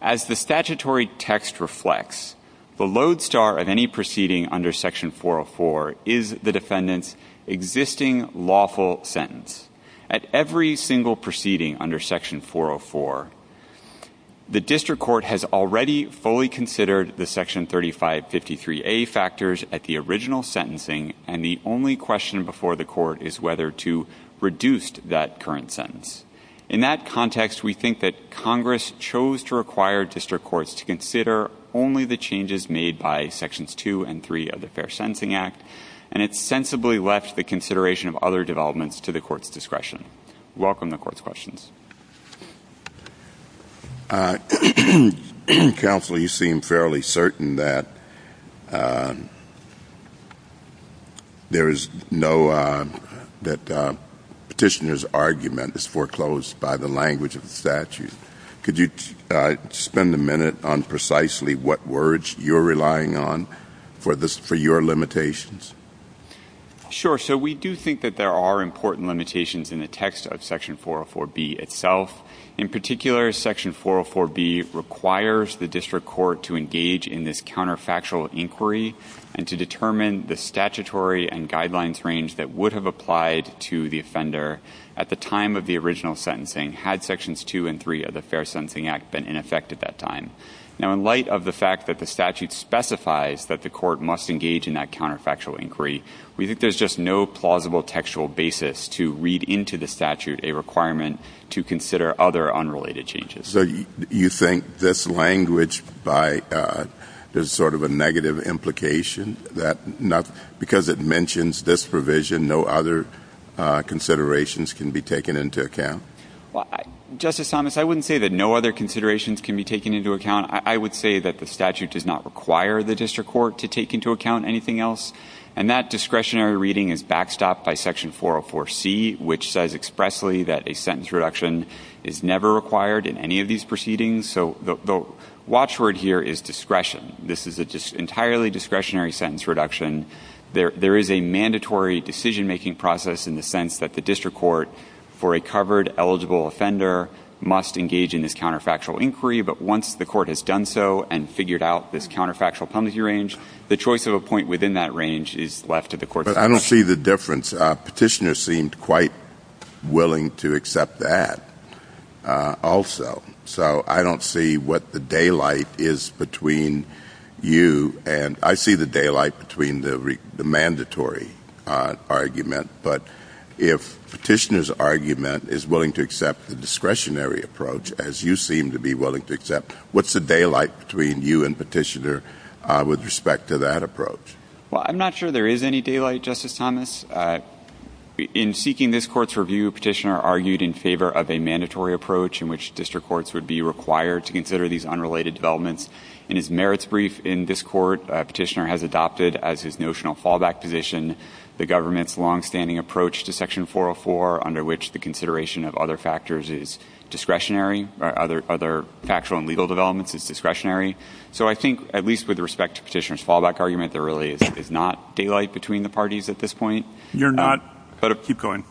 As the statutory text reflects, the lodestar of any proceeding under section 404 is the defendant's existing lawful sentence. At every single proceeding under section 404, the district court has already fully considered the section 3553A factors at the original sentencing. And the only question before the court is whether to reduce that current sentence. In that context, we think that Congress chose to require district courts to consider only the changes made by sections two and three of the Fair Sentencing Act, and it sensibly left the consideration of other developments to the court's discretion. Welcome to court's questions. Counsel, you seem fairly certain that there is no, that petitioner's argument is foreclosed by the language of the statute. Could you spend a minute on precisely what words you're relying on for your limitations? Sure, so we do think that there are important limitations in the text of section 404B itself. In particular, section 404B requires the district court to engage in this counterfactual inquiry and to determine the statutory and guidelines range that would have applied to the offender at the time of the original sentencing had sections two and three of the Fair Sentencing Act been in effect at that time. Now, in light of the fact that the statute specifies that the court must engage in that counterfactual inquiry, we think there's just no plausible textual basis to read into the statute a requirement to consider other unrelated changes. So you think this language is sort of a negative implication because it mentions this provision, no other considerations can be taken into account? Justice Thomas, I wouldn't say that no other considerations can be taken into account. I would say that the statute does not require the district court to take into account anything else. And that discretionary reading is backstopped by section 404C, which says expressly that a sentence reduction is never required in any of these proceedings. So the watchword here is discretion. This is an entirely discretionary sentence reduction. There is a mandatory decision-making process in the sense that the district court for a covered eligible offender must engage in this counterfactual inquiry. But once the court has done so and figured out this counterfactual punitive range, the choice of a point within that range is left to the court. But I don't see the difference. Petitioner seemed quite willing to accept that also. So I don't see what the daylight is between you and I see the daylight between the mandatory argument. But if petitioner's argument is willing to accept the discretionary approach as you seem to be willing to accept, what's the daylight between you and petitioner with respect to that approach? Well, I'm not sure there is any daylight, Justice Thomas. In seeking this court's review, petitioner argued in favor of a mandatory approach in which district courts would be required to consider these unrelated developments. In his merits brief in this court, petitioner has adopted as his notional fallback position the government's longstanding approach to section 404 under which the consideration of other factors is discretionary, or other factual and legal developments is discretionary. So I think at least with respect to petitioner's fallback argument, there really is not daylight between the parties at this point. You're not, but keep going.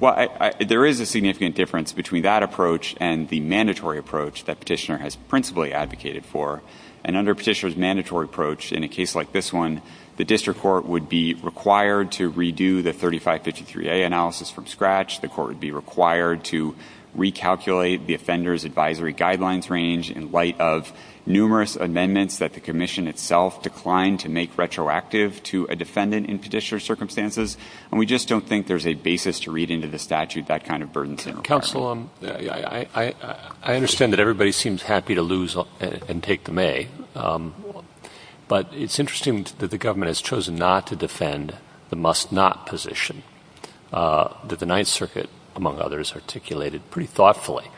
Well, there is a significant difference between that approach and the mandatory approach that petitioner has principally advocated for. And under petitioner's mandatory approach in a case like this one, the district court would be required to redo the 3553A analysis from scratch. The court would be required to recalculate the offender's advisory guidelines range in light of numerous amendments that the commission itself declined to make retroactive to a defendant in petitioner's circumstances. And we just don't think there's a basis to read into the statute that kind of burden. Counsel, I understand that everybody seems happy to lose and take the May. But it's interesting that the government has chosen not to defend the must not position. That the ninth circuit among others articulated pretty thoughtfully.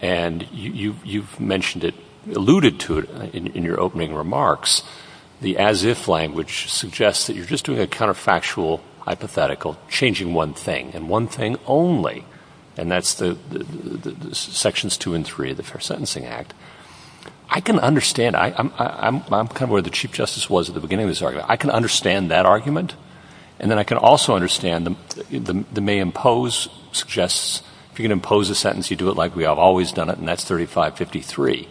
And you've mentioned it, alluded to it in your opening remarks, the as if language suggests that you're just doing a counterfactual hypothetical changing one thing and one thing only. And that's the sections two and three of the Fair Sentencing Act. I can understand, I'm kind of where the chief justice was at the beginning of this argument. I can understand that argument. And then I can also understand the May impose suggests if you can impose a sentence, you do it like we have always done it. And that's 3553.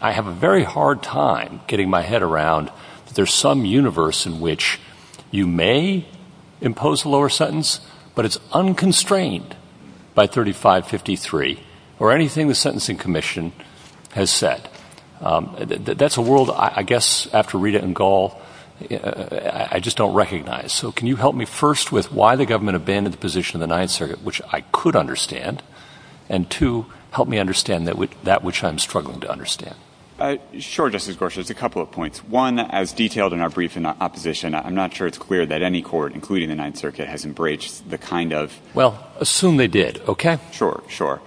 I have a very hard time getting my head around that there's some universe in which you may impose a lower sentence, but it's unconstrained by 3553 or anything the Sentencing Commission has said. That's a world, I guess, after Rita and Gall, I just don't recognize. So can you help me first with why the government abandoned the position of the ninth circuit, which I could understand. And to help me understand that with that, which I'm struggling to understand. Sure, Justice Gorsuch, a couple of points. One as detailed in our brief in opposition, I'm not sure it's clear that any court, including the ninth circuit has embraced the kind of. Well, assume they did, okay. Sure, sure.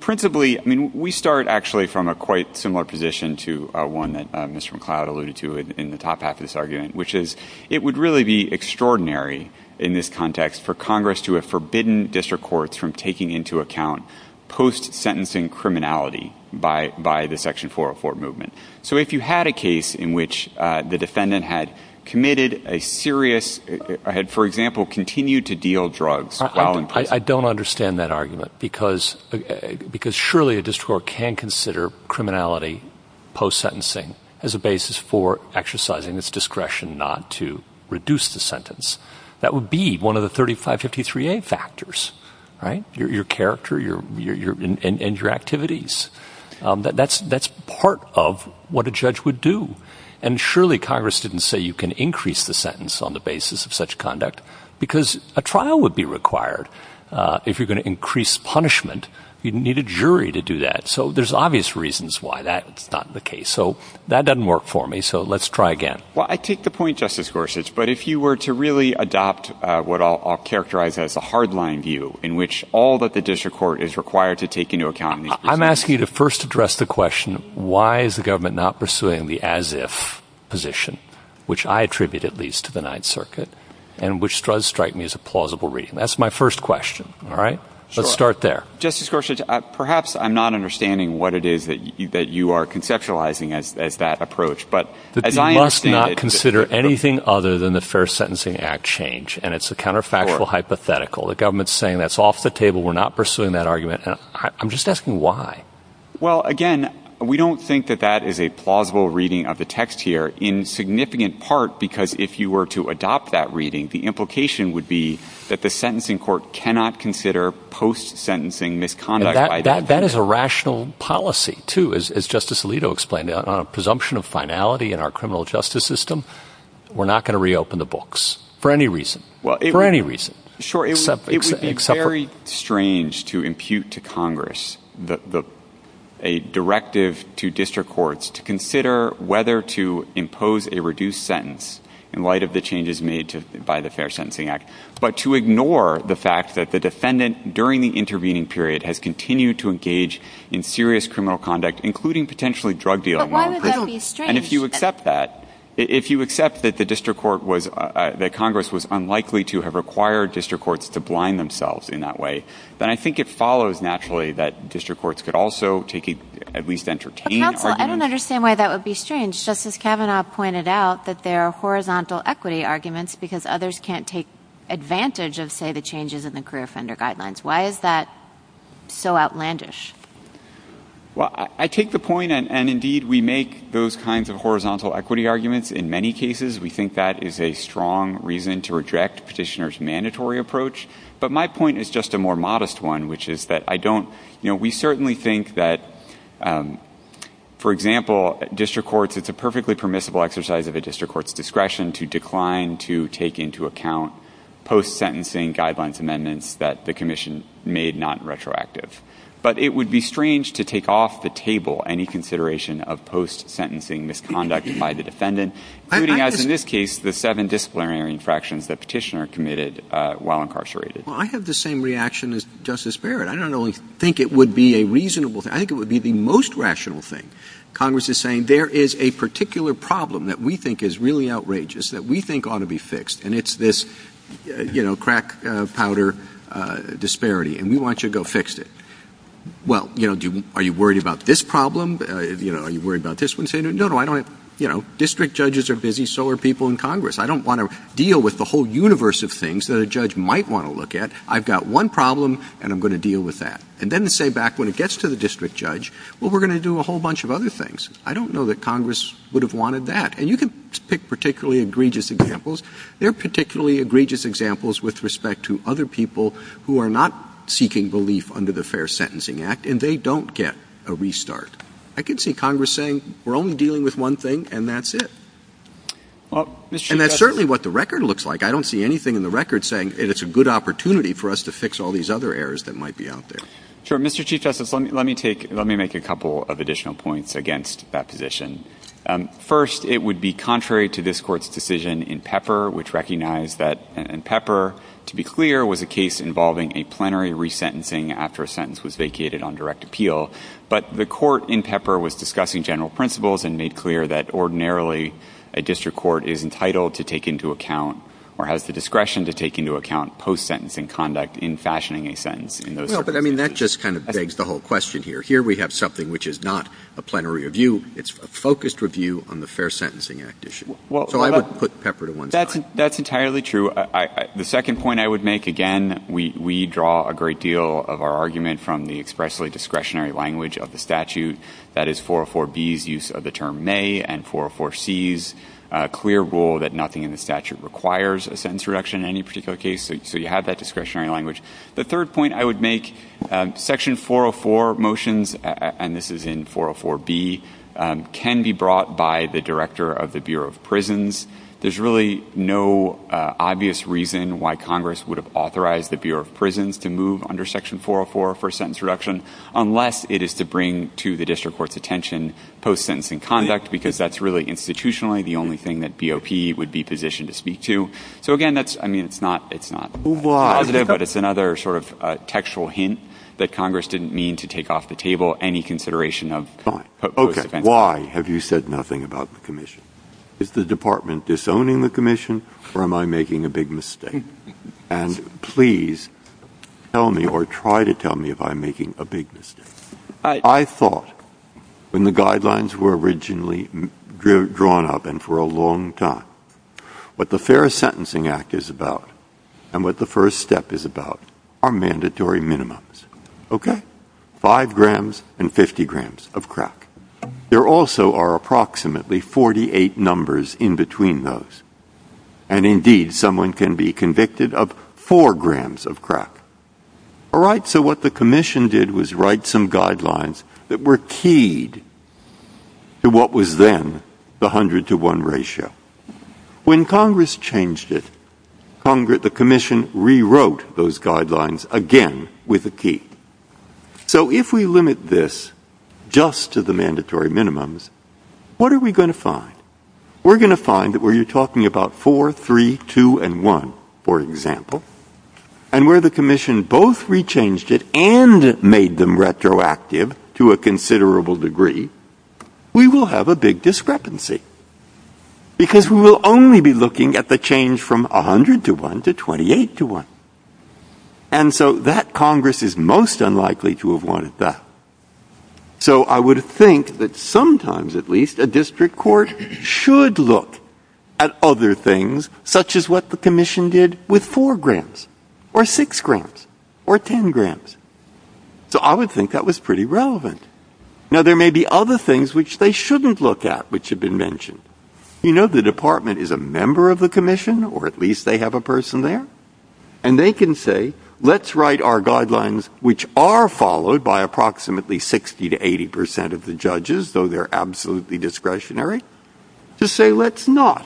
Principally, I mean, we start actually from a quite similar position to one that Mr. McLeod alluded to in the top half of this argument, which is it would really be extraordinary in this context for Congress to have forbidden district courts from taking into account post-sentencing criminality by the Section 404 movement. So if you had a case in which the defendant had committed a serious, had, for example, continued to deal drugs while in prison. I don't understand that argument because surely a district court can consider criminality post-sentencing as a basis for exercising its discretion not to reduce the sentence. That would be one of the 3553A factors, right? Your character, and your activities. That's part of what a judge would do. And surely Congress didn't say you can increase the sentence on the basis of such conduct because a trial would be required. If you're going to increase punishment, you'd need a jury to do that. So there's obvious reasons why that's not the case. So that doesn't work for me. So let's try again. Well, I take the point, Justice Gorsuch, but if you were to really adopt what I'll characterize as a hardline view in which all that the district court is required to take into account. I'm asking you to first address the question, why is the government not pursuing the as-if position, which I attribute at least to the Ninth Circuit and which does strike me as a plausible reason. That's my first question, all right? Let's start there. Justice Gorsuch, perhaps I'm not understanding what it is that you are conceptualizing as that approach. But as I understand it- You must not consider anything other than the Fair Sentencing Act change. And it's a counterfactual hypothetical. The government's saying that's off the table. We're not pursuing that argument. I'm just asking why. Well, again, we don't think that that is a plausible reading of the text here in significant part because if you were to adopt that reading, the implication would be that the sentencing court cannot consider post-sentencing misconduct- That is a rational policy, too, as Justice Alito explained. On a presumption of finality in our criminal justice system, we're not gonna reopen the books for any reason. For any reason. Sure, it would be very strange to impute to Congress a directive to district courts to consider whether to impose a reduced sentence in light of the changes made by the Fair Sentencing Act, but to ignore the fact that the defendant during the intervening period has continued to engage in serious criminal conduct, including potentially drug dealing. But why would that be strange? And if you accept that, if you accept that the district court was, that Congress was unlikely to have required district courts to blind themselves in that way, then I think it follows naturally that district courts could also take a, at least entertain an argument. But counsel, I don't understand why that would be strange. Justice Kavanaugh pointed out that there are horizontal equity arguments because others can't take advantage of, say, the changes in the career offender guidelines. Why is that so outlandish? Well, I take the point, and indeed we make those kinds of horizontal equity arguments in many cases. We think that is a strong reason to reject petitioner's mandatory approach. But my point is just a more modest one, which is that I don't, you know, we certainly think that, for example, district courts, it's a perfectly permissible exercise of a district court's discretion to decline to take into account post-sentencing guidelines amendments that the commission made not retroactive. But it would be strange to take off the table any consideration of post-sentencing misconduct by the defendant, including as in this case, the seven disciplinary infractions that petitioner committed while incarcerated. Well, I have the same reaction as Justice Barrett. I don't only think it would be a reasonable thing, I think it would be the most rational thing. Congress is saying there is a particular problem that we think is really outrageous that we think ought to be fixed and it's this, you know, crack powder disparity and we want you to go fix it. Well, you know, are you worried about this problem? You know, are you worried about this one? Say, no, no, I don't, you know, district judges are busy, so are people in Congress. I don't wanna deal with the whole universe of things that a judge might wanna look at. I've got one problem and I'm gonna deal with that. And then say back when it gets to the district judge, well, we're gonna do a whole bunch of other things. I don't know that Congress would have wanted that. And you can pick particularly egregious examples. There are particularly egregious examples with respect to other people who are not seeking belief under the Fair Sentencing Act and they don't get a restart. I can see Congress saying, we're only dealing with one thing and that's it. And that's certainly what the record looks like. I don't see anything in the record saying it is a good opportunity for us to fix all these other errors that might be out there. Sure, Mr. Chief Justice, let me make a couple of additional points against that position. First, it would be contrary to this court's decision in Pepper, which recognized that in Pepper, to be clear, was a case involving a plenary resentencing after a sentence was vacated on direct appeal. But the court in Pepper was discussing general principles and made clear that ordinarily, a district court is entitled to take into account or has the discretion to take into account post-sentencing conduct in fashioning a sentence in those circumstances. I mean, that just kind of begs the whole question here. Here we have something which is not a plenary review. It's a focused review on the Fair Sentencing Act issue. So I would put Pepper to one side. That's entirely true. The second point I would make, again, we draw a great deal of our argument from the expressly discretionary language of the statute. That is 404B's use of the term may and 404C's clear rule that nothing in the statute requires a sentence reduction in any particular case. So you have that discretionary language. The third point I would make, section 404 motions, and this is in 404B, can be brought by the director of the Bureau of Prisons. There's really no obvious reason why Congress would have authorized the Bureau of Prisons to move under section 404 for sentence reduction unless it is to bring to the district court's attention post-sentencing conduct, because that's really institutionally the only thing that BOP would be positioned to speak to. So again, that's, I mean, it's not positive, but it's another sort of textual hint that Congress didn't mean to take off the table any consideration of post-sentencing. Okay, why have you said nothing about the commission? Is the department disowning the commission or am I making a big mistake? And please tell me or try to tell me if I'm making a big mistake. I thought when the guidelines were originally drawn up and for a long time, what the Fair Sentencing Act is about and what the first step is about are mandatory minimums. Okay, five grams and 50 grams of crack. There also are approximately 48 numbers in between those. And indeed someone can be convicted of four grams of crack. All right, so what the commission did was write some guidelines that were keyed to what was then the 100 to one ratio. When Congress changed it, the commission rewrote those guidelines again with a key. So if we limit this just to the mandatory minimums, what are we gonna find? We're gonna find that where you're talking about four, three, two, and one, for example, and where the commission both rechanged it and made them retroactive to a considerable degree, we will have a big discrepancy. Because we will only be looking at the change from 100 to one to 28 to one. And so that Congress is most unlikely to have wanted that. So I would think that sometimes at least a district court should look at other things such as what the commission did with four grams or six grams or 10 grams. So I would think that was pretty relevant. Now there may be other things which they shouldn't look at which have been mentioned. You know the department is a member of the commission or at least they have a person there. And they can say, let's write our guidelines which are followed by approximately 60 to 80% of the judges though they're absolutely discretionary, to say let's not.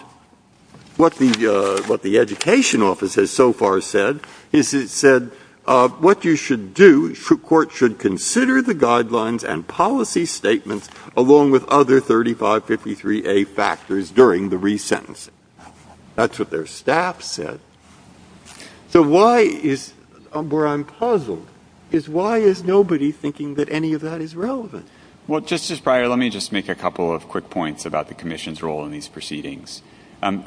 What the education office has so far said is it said what you should do, court should consider the guidelines and policy statements along with other 3553A factors during the re-sentence. That's what their staff said. So why is, where I'm puzzled, is why is nobody thinking that any of that is relevant? Well, Justice Breyer, let me just make a couple of quick points about the commission's role in these proceedings.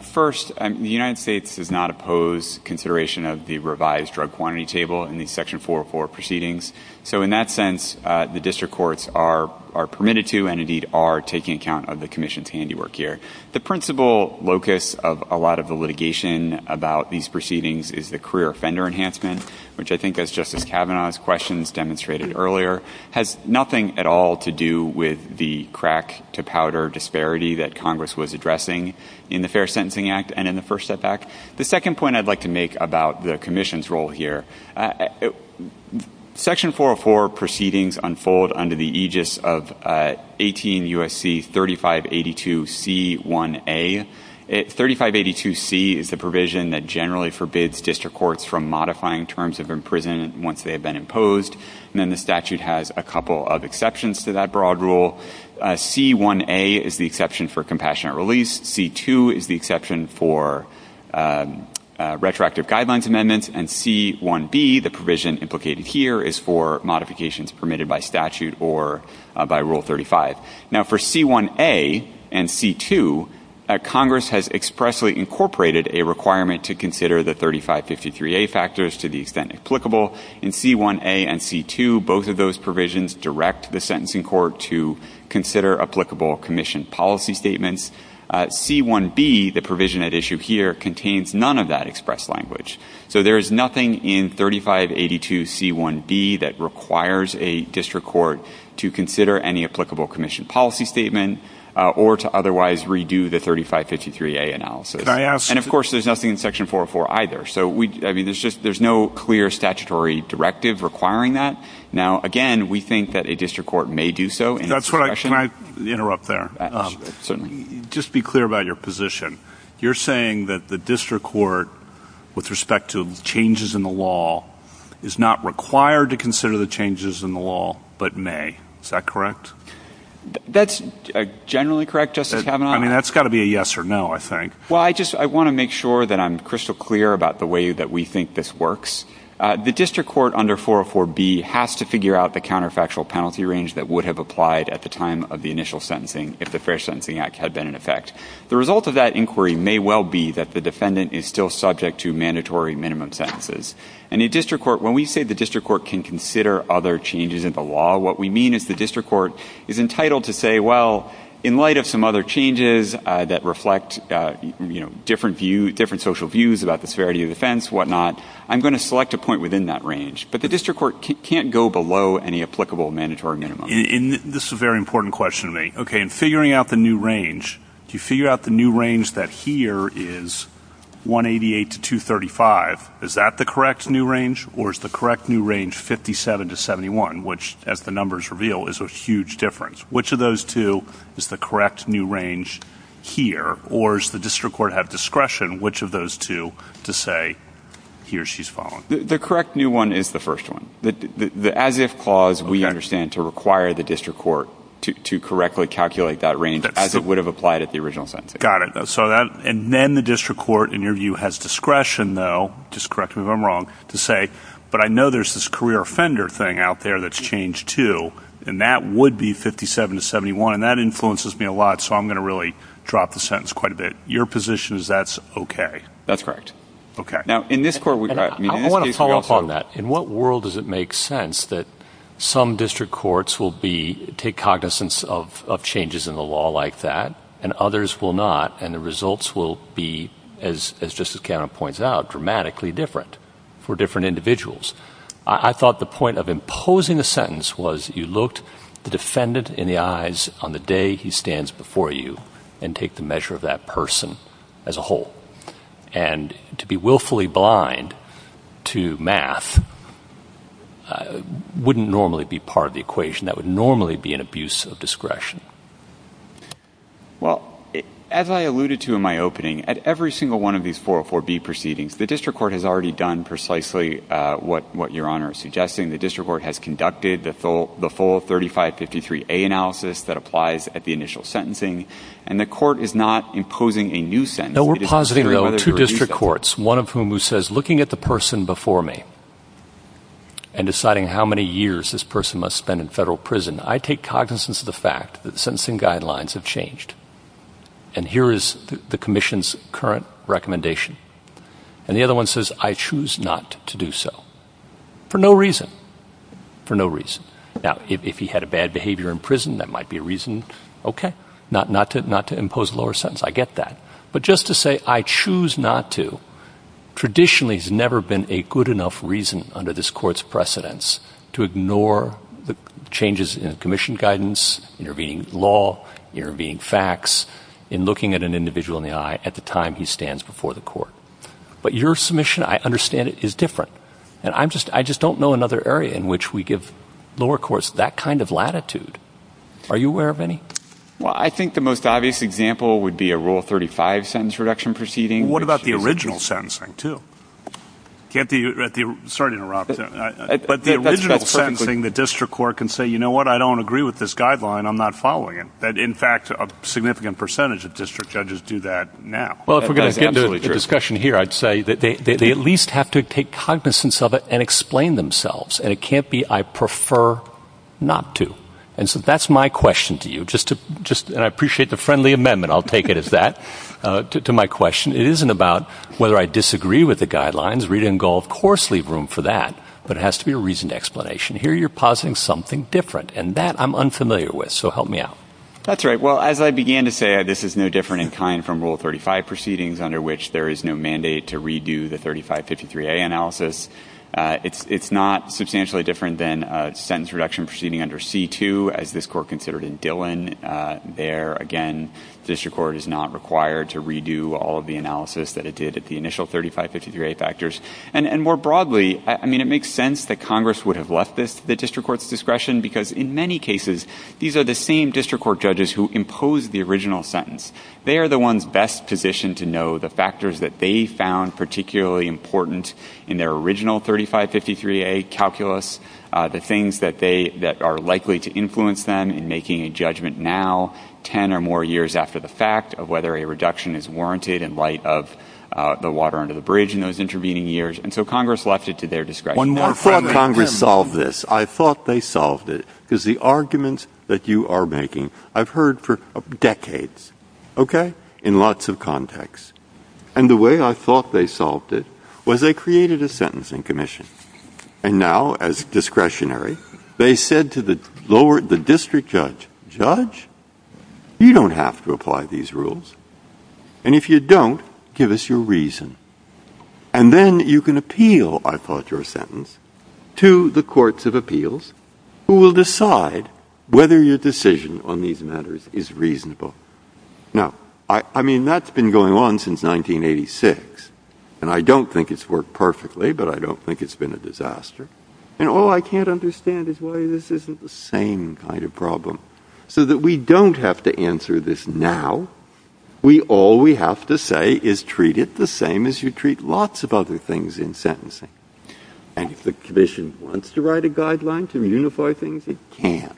First, the United States does not oppose consideration of the revised drug quantity table in the section 404 proceedings. So in that sense, the district courts are permitted to and indeed are taking account of the commission's handiwork here. The principal locus of a lot of the litigation about these proceedings is the career offender enhancement which I think as Justice Kavanaugh's questions demonstrated earlier, has nothing at all to do with the crack to powder disparity that Congress was addressing in the Fair Sentencing Act and in the First Step Act. The second point I'd like to make about the commission's role here. Section 404 proceedings unfold under the aegis of 18 U.S.C. 3582C1A. 3582C is the provision that generally forbids district courts from modifying terms of imprisonment once they have been imposed. And then the statute has a couple of exceptions to that broad rule. C1A is the exception for compassionate release. C2 is the exception for retroactive guidelines amendments and C1B, the provision implicated here, is for modifications permitted by statute or by Rule 35. Now for C1A and C2, Congress has expressly incorporated a requirement to consider the 3553A factors to the extent applicable. In C1A and C2, both of those provisions direct the sentencing court to consider applicable commission policy statements. C1B, the provision at issue here, contains none of that express language. So there is nothing in 3582C1B that requires a district court to consider any applicable commission policy statement or to otherwise redo the 3553A analysis. And of course, there's nothing in Section 404 either. So there's no clear statutory directive requiring that. Now again, we think that a district court may do so. That's where I, can I interrupt there? Just be clear about your position. You're saying that the district court with respect to changes in the law is not required to consider the changes in the law, but may, is that correct? That's generally correct, Justice Kavanaugh. I mean, that's gotta be a yes or no, I think. Well, I just, I wanna make sure that I'm crystal clear about the way that we think this works. The district court under 404B has to figure out the counterfactual penalty range that would have applied at the time of the initial sentencing if the Fair Sentencing Act had been in effect. The result of that inquiry may well be that the defendant is still subject to mandatory minimum sentences. And the district court, when we say the district court can consider other changes in the law, what we mean is the district court is entitled to say, well, in light of some other changes that reflect different social views about the severity of offense, whatnot, I'm gonna select a point within that range. But the district court can't go below any applicable mandatory minimum. This is a very important question to me. Okay, in figuring out the new range, to figure out the new range that here is 188 to 235, is that the correct new range or is the correct new range 57 to 71, which, as the numbers reveal, is a huge difference? Which of those two is the correct new range here or does the district court have discretion, which of those two to say, here, she's falling? The correct new one is the first one. The as-if clause, we understand, to require the district court to correctly calculate that range as it would have applied at the original time. Got it, so that, and then the district court, in your view, has discretion, though, just correct me if I'm wrong, to say, but I know there's this career offender thing out there that's changed, too, and that would be 57 to 71, and that influences me a lot, so I'm gonna really drop the sentence quite a bit. Your position is that's okay? That's correct. Okay. Now, in this court, we have, I mean, that's basically also- I wanna follow up on that. In what world does it make sense that some district courts will be, take cognizance of changes in the law, and others will not, and the results will be, as Justice Gannon points out, dramatically different for different individuals? I thought the point of imposing the sentence was you looked the defendant in the eyes on the day he stands before you and take the measure of that person as a whole, and to be willfully blind to math That would normally be an abuse of discretion. Well, as I alluded to in my opening, at every single one of these 404B proceedings, the district court has already done precisely what Your Honor is suggesting. The district court has conducted the full 3553A analysis that applies at the initial sentencing, and the court is not imposing a new sentence. No, we're positing, though, two district courts, one of whom who says, looking at the person before me and deciding how many years this person must spend in federal prison, I take cognizance of the fact that the sentencing guidelines have changed, and here is the commission's current recommendation, and the other one says, I choose not to do so, for no reason, for no reason. Now, if he had a bad behavior in prison, that might be a reason, okay, not to impose a lower sentence, I get that, but just to say, I choose not to, traditionally has never been a good enough reason under this court's precedence to ignore the changes in the commission guidance, intervening law, intervening facts, in looking at an individual in the eye at the time he stands before the court. But your submission, I understand it, is different, and I just don't know another area in which we give lower courts that kind of latitude. Are you aware of any? Well, I think the most obvious example would be a Rule 35 sentence reduction proceeding. What about the original sentencing, too? Sorry to interrupt, but the original sentencing, the district court can say, you know what, I don't agree with this guideline, I'm not following it. That, in fact, a significant percentage of district judges do that now. Well, if we're gonna get into a discussion here, I'd say that they at least have to take cognizance of it and explain themselves, and it can't be, I prefer not to. And so that's my question to you, just to, and I appreciate the friendly amendment, I'll take it as that, to my question. It isn't about whether I disagree with the guidelines, Rita and Gold, of course, leave room for that, but it has to be a reasoned explanation. Here, you're positing something different, and that I'm unfamiliar with, so help me out. That's right, well, as I began to say, this is no different in time from Rule 35 proceedings under which there is no mandate to redo the 3553A analysis. It's not substantially different than a sentence reduction proceeding under C-2, as this court considered in Dillon. There, again, district court is not required to redo all of the analysis that it did at the initial 3553A factors, and more broadly, I mean, it makes sense that Congress would have left the district court's discretion, because in many cases, these are the same district court judges who imposed the original sentence. They are the ones best positioned to know the factors that they found particularly important in their original 3553A calculus, the things that are likely to influence them in making a judgment now, 10 or more years after the fact, of whether a reduction is warranted in light of the water under the bridge in those intervening years, and so Congress left it to their discretion. One more point, Congress solved this. I thought they solved it, because the arguments that you are making, I've heard for decades, okay, in lots of contexts, and the way I thought they solved it was they created a sentencing commission, and now, as discretionary, they said to the district judge, judge, you don't have to apply these rules, and if you don't, give us your reason, and then you can appeal, I thought your sentence, to the courts of appeals, who will decide whether your decision on these matters is reasonable. Now, I mean, that's been going on since 1986, and I don't think it's worked perfectly, but I don't think it's been a disaster, and all I can't understand is why this isn't the same kind of problem, so that we don't have to answer this now. We all, we have to say, is treat it the same as you treat lots of other things in sentencing, and if the commission wants to write a guideline to unify things, it can,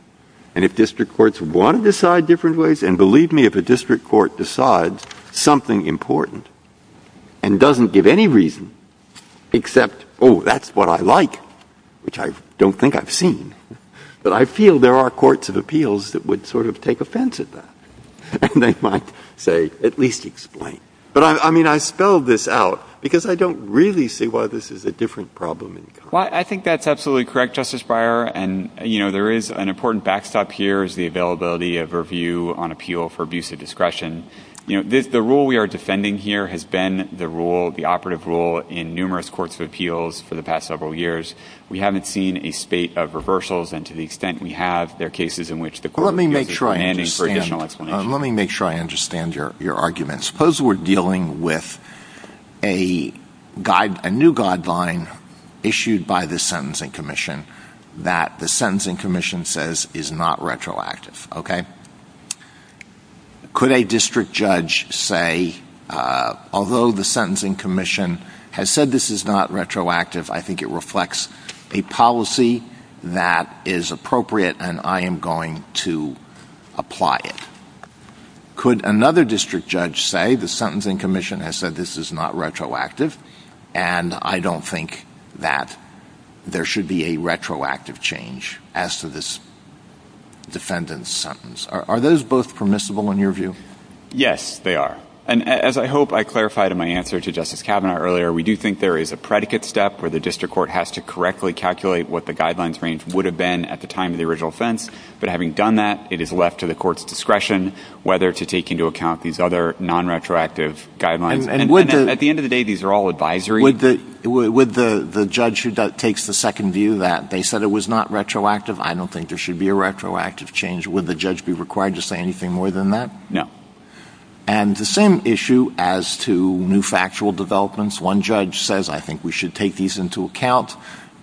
and if district courts want to decide different ways, and believe me, if a district court decides something important, and doesn't give any reason, except, oh, that's what I like, which I don't think I've seen, but I feel there are courts of appeals that would sort of take offense at that, and they might say, at least explain, but I mean, I spelled this out, because I don't really see why this is a different problem. Well, I think that's absolutely correct, Justice Breyer, and you know, there is an important backstop here, is the availability of review on appeal for abuse of discretion. You know, the rule we are defending here has been the rule, the operative rule, in numerous courts of appeals for the past several years. We haven't seen a spate of reversals, and to the extent we have, there are cases in which the court is demanding for additional explanation. Let me make sure I understand your argument. Suppose we're dealing with a new guideline issued by the Sentencing Commission that the Sentencing Commission says is not retroactive, okay? Could a district judge say, although the Sentencing Commission has said this is not retroactive, I think it reflects a policy that is appropriate, and I am going to apply it. Could another district judge say the Sentencing Commission has said this is not retroactive, and I don't think that there should be a retroactive change as to this defendant's sentence? Are those both permissible in your view? Yes, they are. And as I hope I clarified in my answer to Justice Kavanaugh earlier, we do think there is a predicate step where the district court has to correctly calculate what the guidelines range would have been at the time of the original offense, but having done that, it is left to the court's discretion whether to take into account these other non-retroactive guidelines. At the end of the day, these are all advisory. Would the judge who takes the second view that they said it was not retroactive, I don't think there should be a retroactive change, would the judge be required to say anything more than that? No. And the same issue as to new factual developments. One judge says, I think we should take these into account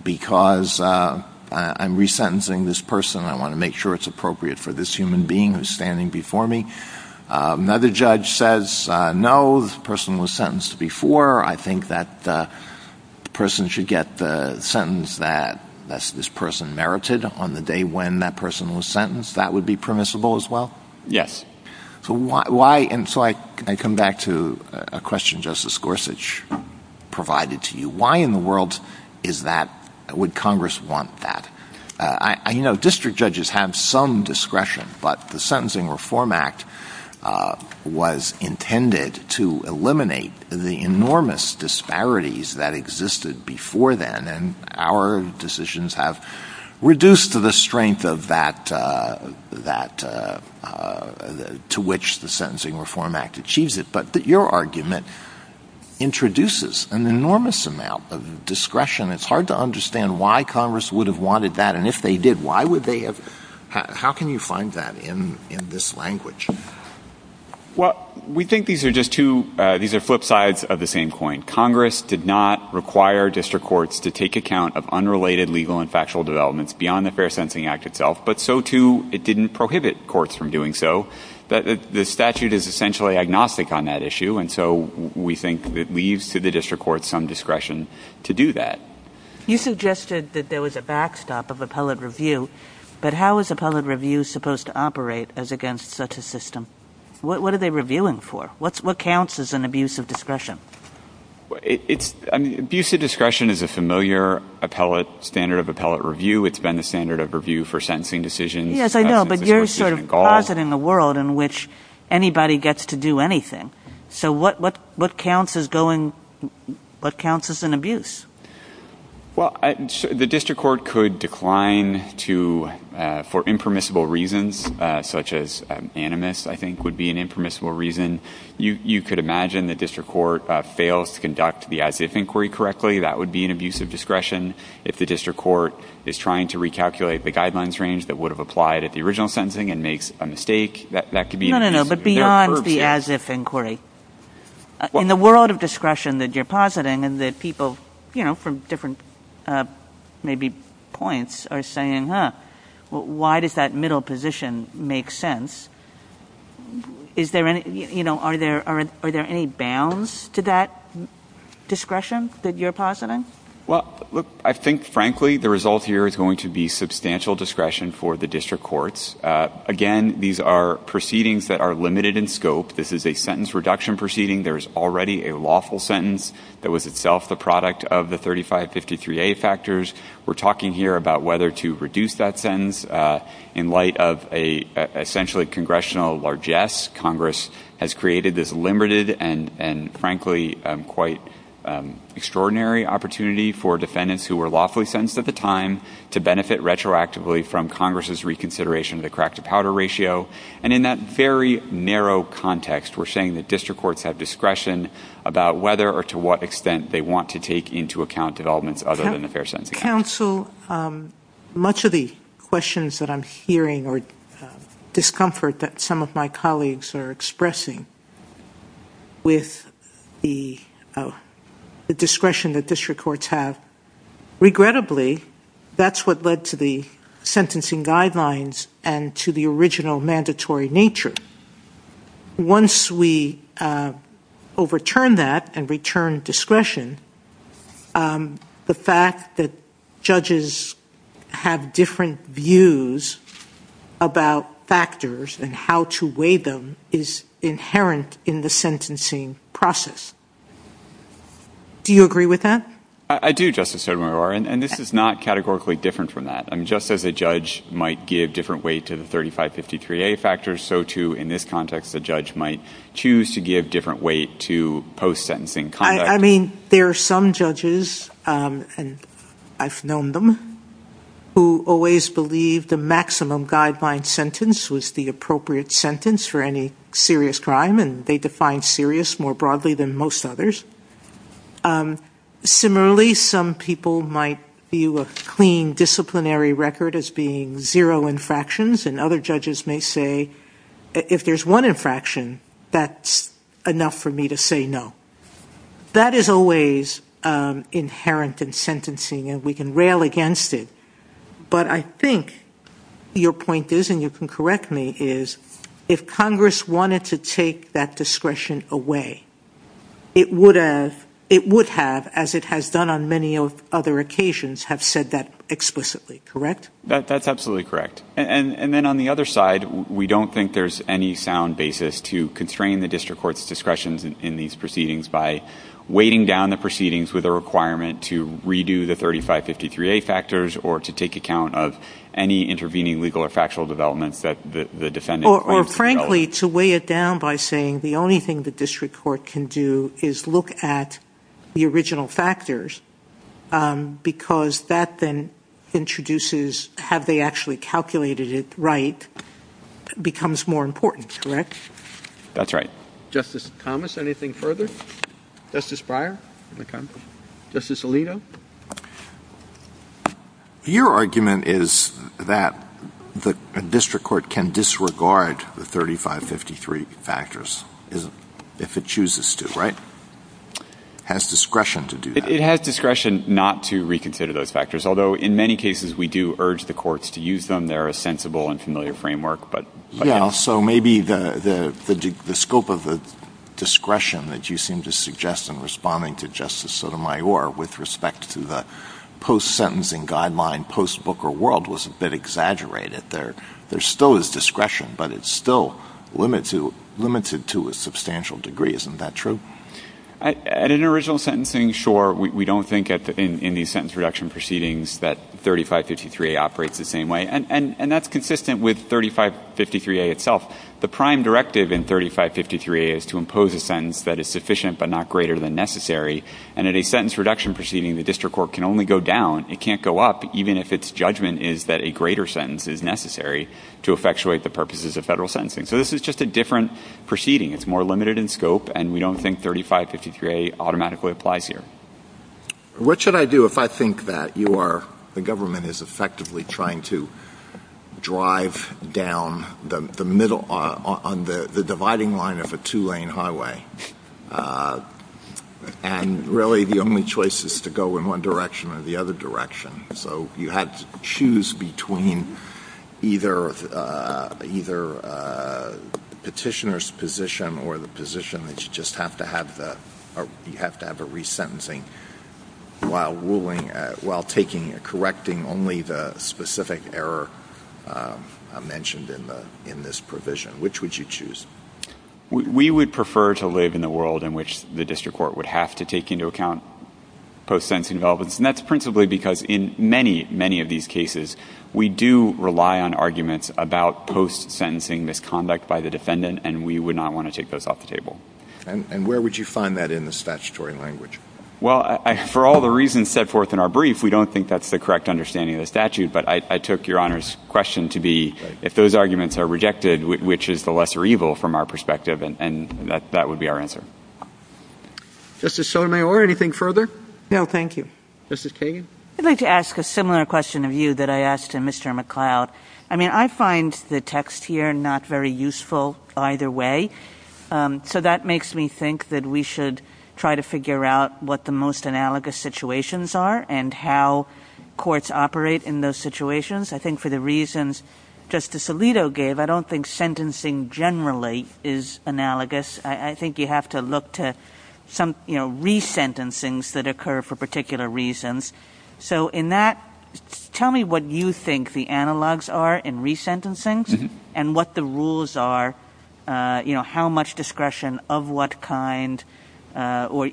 because I'm resentencing this person. I want to make sure it's appropriate for this human being who's standing before me. Another judge says, no, this person was sentenced before. I think that the person should get the sentence that this person merited on the day when that person was sentenced. That would be permissible as well? Yes. So why, and so I come back to a question Justice Gorsuch provided to you. Why in the world is that, would Congress want that? I know district judges have some discretion, but the Sentencing Reform Act was intended to eliminate the enormous disparities that existed before then. And our decisions have reduced the strength of that to which the Sentencing Reform Act achieves it. But your argument introduces an enormous amount of discretion. It's hard to understand why Congress would have wanted that. And if they did, why would they have, how can you find that in this language? Well, we think these are just two, these are flip sides of the same coin. Congress did not require district courts to take account of unrelated legal and factual developments beyond the Fair Sentencing Act itself, but so too, it didn't prohibit courts from doing so. The statute is essentially agnostic on that issue. And so we think that leaves to the district courts some discretion to do that. You suggested that there was a backstop of appellate review, but how is appellate review supposed to operate as against such a system? What are they reviewing for? What counts as an abuse of discretion? Abuse of discretion is a familiar appellate standard of appellate review. It's been a standard of review for sentencing decisions. Yes, I know, but you're sort of positing the world in which anybody gets to do anything. So what counts as going, what counts as an abuse? Well, the district court could decline to, for impermissible reasons, such as animus, I think would be an impermissible reason. You could imagine the district court fails to conduct the as-if inquiry correctly. That would be an abuse of discretion. If the district court is trying to recalculate the guidelines range that would have applied at the original sentencing and makes a mistake, that could be an abuse of discretion. No, no, no, but beyond the as-if inquiry, in the world of discretion that you're positing and that people, you know, from different maybe points are saying, huh, why does that middle position make sense? Is there any, you know, are there any bounds to that discretion that you're positing? Well, look, I think, frankly, the result here is going to be substantial discretion for the district courts. Again, these are proceedings that are limited in scope. This is a sentence reduction proceeding. There's already a lawful sentence that was itself the product of the 3553A factors. We're talking here about whether to reduce that sentence in light of a essentially congressional largesse. Congress has created this limited and frankly quite extraordinary opportunity for defendants who were lawfully sentenced at the time to benefit retroactively from Congress's reconsideration of the crack-to-powder ratio and in that very narrow context, we're saying that district courts have discretion about whether or to what extent they want to take into account developments other than the fair sentence. Counsel, much of the questions that I'm hearing or discomfort that some of my colleagues are expressing with the discretion that district courts have, regrettably, that's what led to the sentencing guidelines and to the original mandatory nature. Once we overturn that and return discretion, the fact that judges have different views about factors and how to weigh them is inherent in the sentencing process. Do you agree with that? I do, Justice Sotomayor, and this is not categorically different from that. I mean, just as a judge might give different weight to the 3553A factors, so too in this context, the judge might choose to give different weight to post-sentencing conduct. I mean, there are some judges, and I've known them, who always believe the maximum guideline sentence was the appropriate sentence for any serious crime and they define serious more broadly than most others. Similarly, some people might view a clean disciplinary record as being zero infractions, and other judges may say, if there's one infraction, that's enough for me to say no. That is always inherent in sentencing, and we can rail against it, but I think your point is, and you can correct me, is if Congress wanted to take that discretion away, it would have, as it has done on many other occasions, have said that explicitly, correct? That's absolutely correct. And then on the other side, we don't think there's any sound basis to constrain the district court's discretion in these proceedings by weighting down the proceedings with a requirement to redo the 3553A factors or to take account of any intervening legal or factual developments that the defendant- Or frankly, to weigh it down by saying the only thing the district court can do is look at the original factors, because that then introduces, have they actually calculated it right, becomes more important, correct? That's right. Justice Thomas, anything further? Justice Breyer? Justice Alito? Your argument is that the district court can disregard the 3553 factors if it chooses to, right? Has discretion to do that. It has discretion not to reconsider those factors, although in many cases, we do urge the courts to use them. They're a sensible and familiar framework, but- Yeah, so maybe the scope of the discretion that you seem to suggest in responding to Justice Sotomayor with respect to the post-sentencing guideline, post-Booker world, was a bit exaggerated. There still is discretion, but it's still limited to a substantial degree. Isn't that true? At an original sentencing, sure. We don't think in the sentence reduction proceedings that 3553A operates the same way. And that's consistent with 3553A itself. The prime directive in 3553A is to impose a sentence that is sufficient, but not greater than necessary. And at a sentence reduction proceeding, the district court can only go down. It can't go up, even if its judgment is that a greater sentence is necessary to effectuate the purposes of federal sentencing. So this is just a different proceeding. It's more limited in scope, and we don't think 3553A automatically applies here. What should I do if I think that you are, the government is effectively trying to drive down the middle on the dividing line of a two-lane highway, and really the only choice is to go in one direction or the other direction. So you have to choose between either petitioner's position or the position that you just have to have the, you have to have a resentencing while ruling, while taking and correcting only the specific error mentioned in this provision. Which would you choose? We would prefer to live in a world in which the district court would have to take into account post-sentencing developments. And that's principally because in many, many of these cases, we do rely on arguments about post-sentencing misconduct by the defendant, and we would not want to take those off the table. And where would you find that in the statutory language? Well, for all the reasons set forth in our brief, we don't think that's the correct understanding of the statute. But I took your Honor's question to be, if those arguments are rejected, which is the lesser evil from our perspective? And that would be our answer. Justice Sotomayor, anything further? No, thank you. Justice Kagan? I'd like to ask a similar question of you that I asked to Mr. McCloud. I mean, I find the text here not very useful either way. So that makes me think that we should try to figure out what the most analogous situations are and how courts operate in those situations. I think for the reasons Justice Alito gave, I don't think sentencing generally is analogous. I think you have to look to some resentencings that occur for particular reasons. So in that, tell me what you think the analogs are in resentencings and what the rules are, how much discretion of what kind, what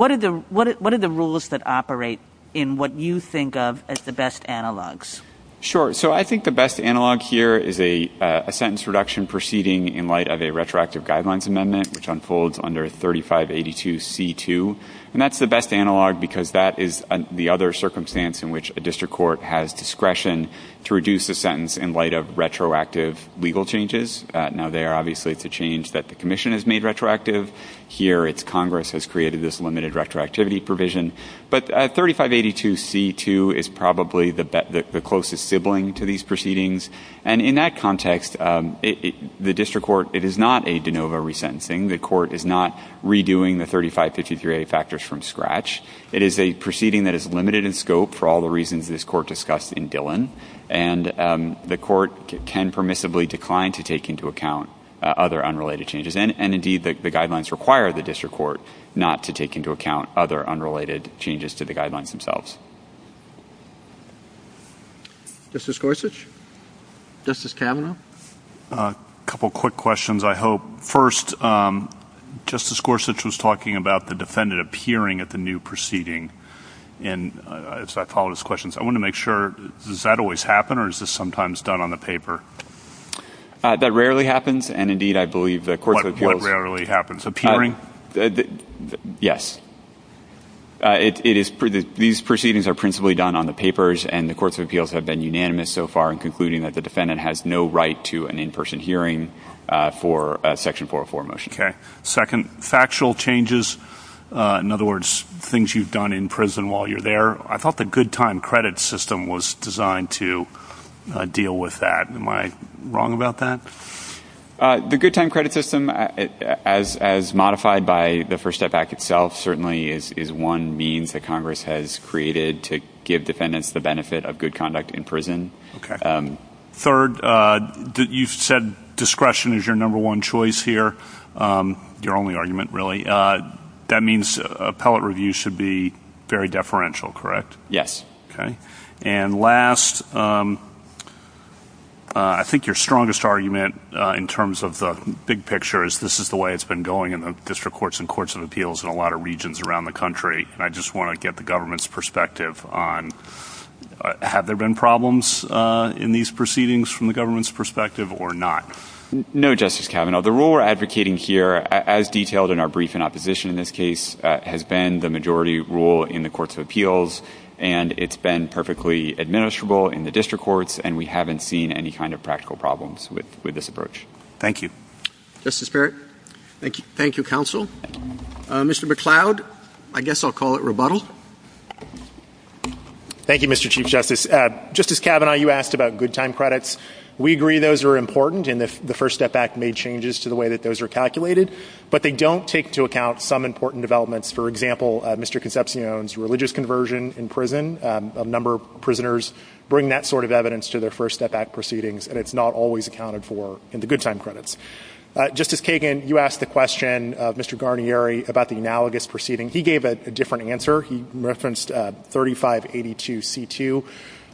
are the rules that operate in what you think of as the best analogs? Sure, so I think the best analog here is a sentence reduction proceeding in light of a retroactive guidelines amendment, which unfolds under 3582C2. And that's the best analog because that is the other circumstance in which a district court has discretion to reduce the sentence in light of retroactive legal changes. Now, they are obviously the change that the commission has made retroactive. Here, it's Congress has created this limited retroactivity provision. But 3582C2 is probably the closest sibling to these proceedings. And in that context, the district court, it is not a de novo resentencing. The court is not redoing the 3553A factors from scratch. It is a proceeding that is limited in scope for all the reasons this court discussed in Dillon. And the court can permissibly decline to take into account other unrelated changes. And indeed, the guidelines require the district court not to take into account other unrelated changes to the guidelines themselves. Justice Gorsuch, Justice Kavanaugh. A couple of quick questions, I hope. First, Justice Gorsuch was talking about the defendant appearing at the new proceeding. And as I follow his questions, I want to make sure, does that always happen or is this sometimes done on the paper? That rarely happens. And indeed, I believe that courts of appeals- What rarely happens, appearing? Yes. These proceedings are principally done on the papers and the courts of appeals have been unanimous so far in concluding that the defendant has no right to an in-person hearing for a section 404 motion. Okay, second, factual changes. In other words, things you've done in prison while you're there. I thought the good time credit system was designed to deal with that. Am I wrong about that? The good time credit system, as modified by the First Step Act itself, to give defendants the benefit of good conduct in prison. Okay. Third, you said discretion is your number one choice here. Your only argument, really. That means appellate review should be very deferential, correct? Yes. Okay. And last, I think your strongest argument in terms of the big picture is this is the way it's been going in the district courts and courts of appeals in a lot of regions around the country. And I just want to get the government's perspective on have there been problems in these proceedings from the government's perspective or not? No, Justice Kavanaugh. The rule we're advocating here, as detailed in our brief in opposition in this case, has been the majority rule in the courts of appeals, and it's been perfectly administrable in the district courts, and we haven't seen any kind of practical problems with this approach. Thank you. Justice Barrett. Thank you, counsel. Mr. McCloud, I guess I'll call it rebuttal. Thank you, Mr. Chief Justice. Justice Kavanaugh, you asked about good time credits. We agree those are important, and the First Step Act made changes to the way that those are calculated, but they don't take into account some important developments. For example, Mr. Concepcion's religious conversion in prison. A number of prisoners bring that sort of evidence to their First Step Act proceedings, and it's not always accounted for in the good time credits. Justice Kagan, you asked the question of Mr. Guarnieri about the analogous proceeding. He gave a different answer. He referenced 3582C2.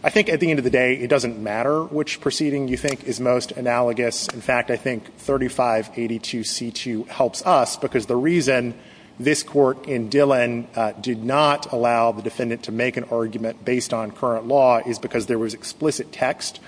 I think at the end of the day, it doesn't matter which proceeding you think is most analogous. In fact, I think 3582C2 helps us because the reason this court in Dillon did not allow the defendant to make an argument based on current law is because there was explicit text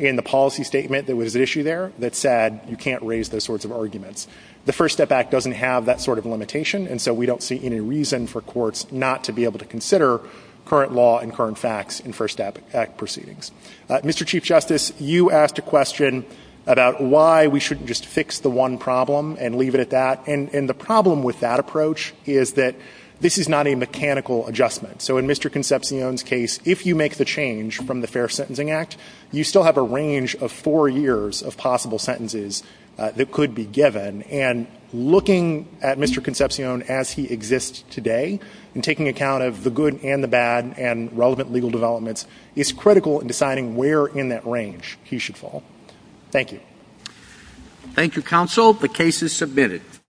in the policy statement that was at issue there that said you can't raise those sorts of arguments. The First Step Act doesn't have that sort of limitation, and so we don't see any reason for courts not to be able to consider current law and current facts in First Step Act proceedings. Mr. Chief Justice, you asked a question about why we shouldn't just fix the one problem and leave it at that, and the problem with that approach is that this is not a mechanical adjustment. So in Mr. Concepcion's case, if you make the change from the Fair Sentencing Act, you still have a range of four years of possible sentences that could be given, and looking at Mr. Concepcion as he exists today, and taking account of the good and the bad and relevant legal developments, it's critical in deciding where in that range he should fall. Thank you. Thank you, counsel. The case is submitted.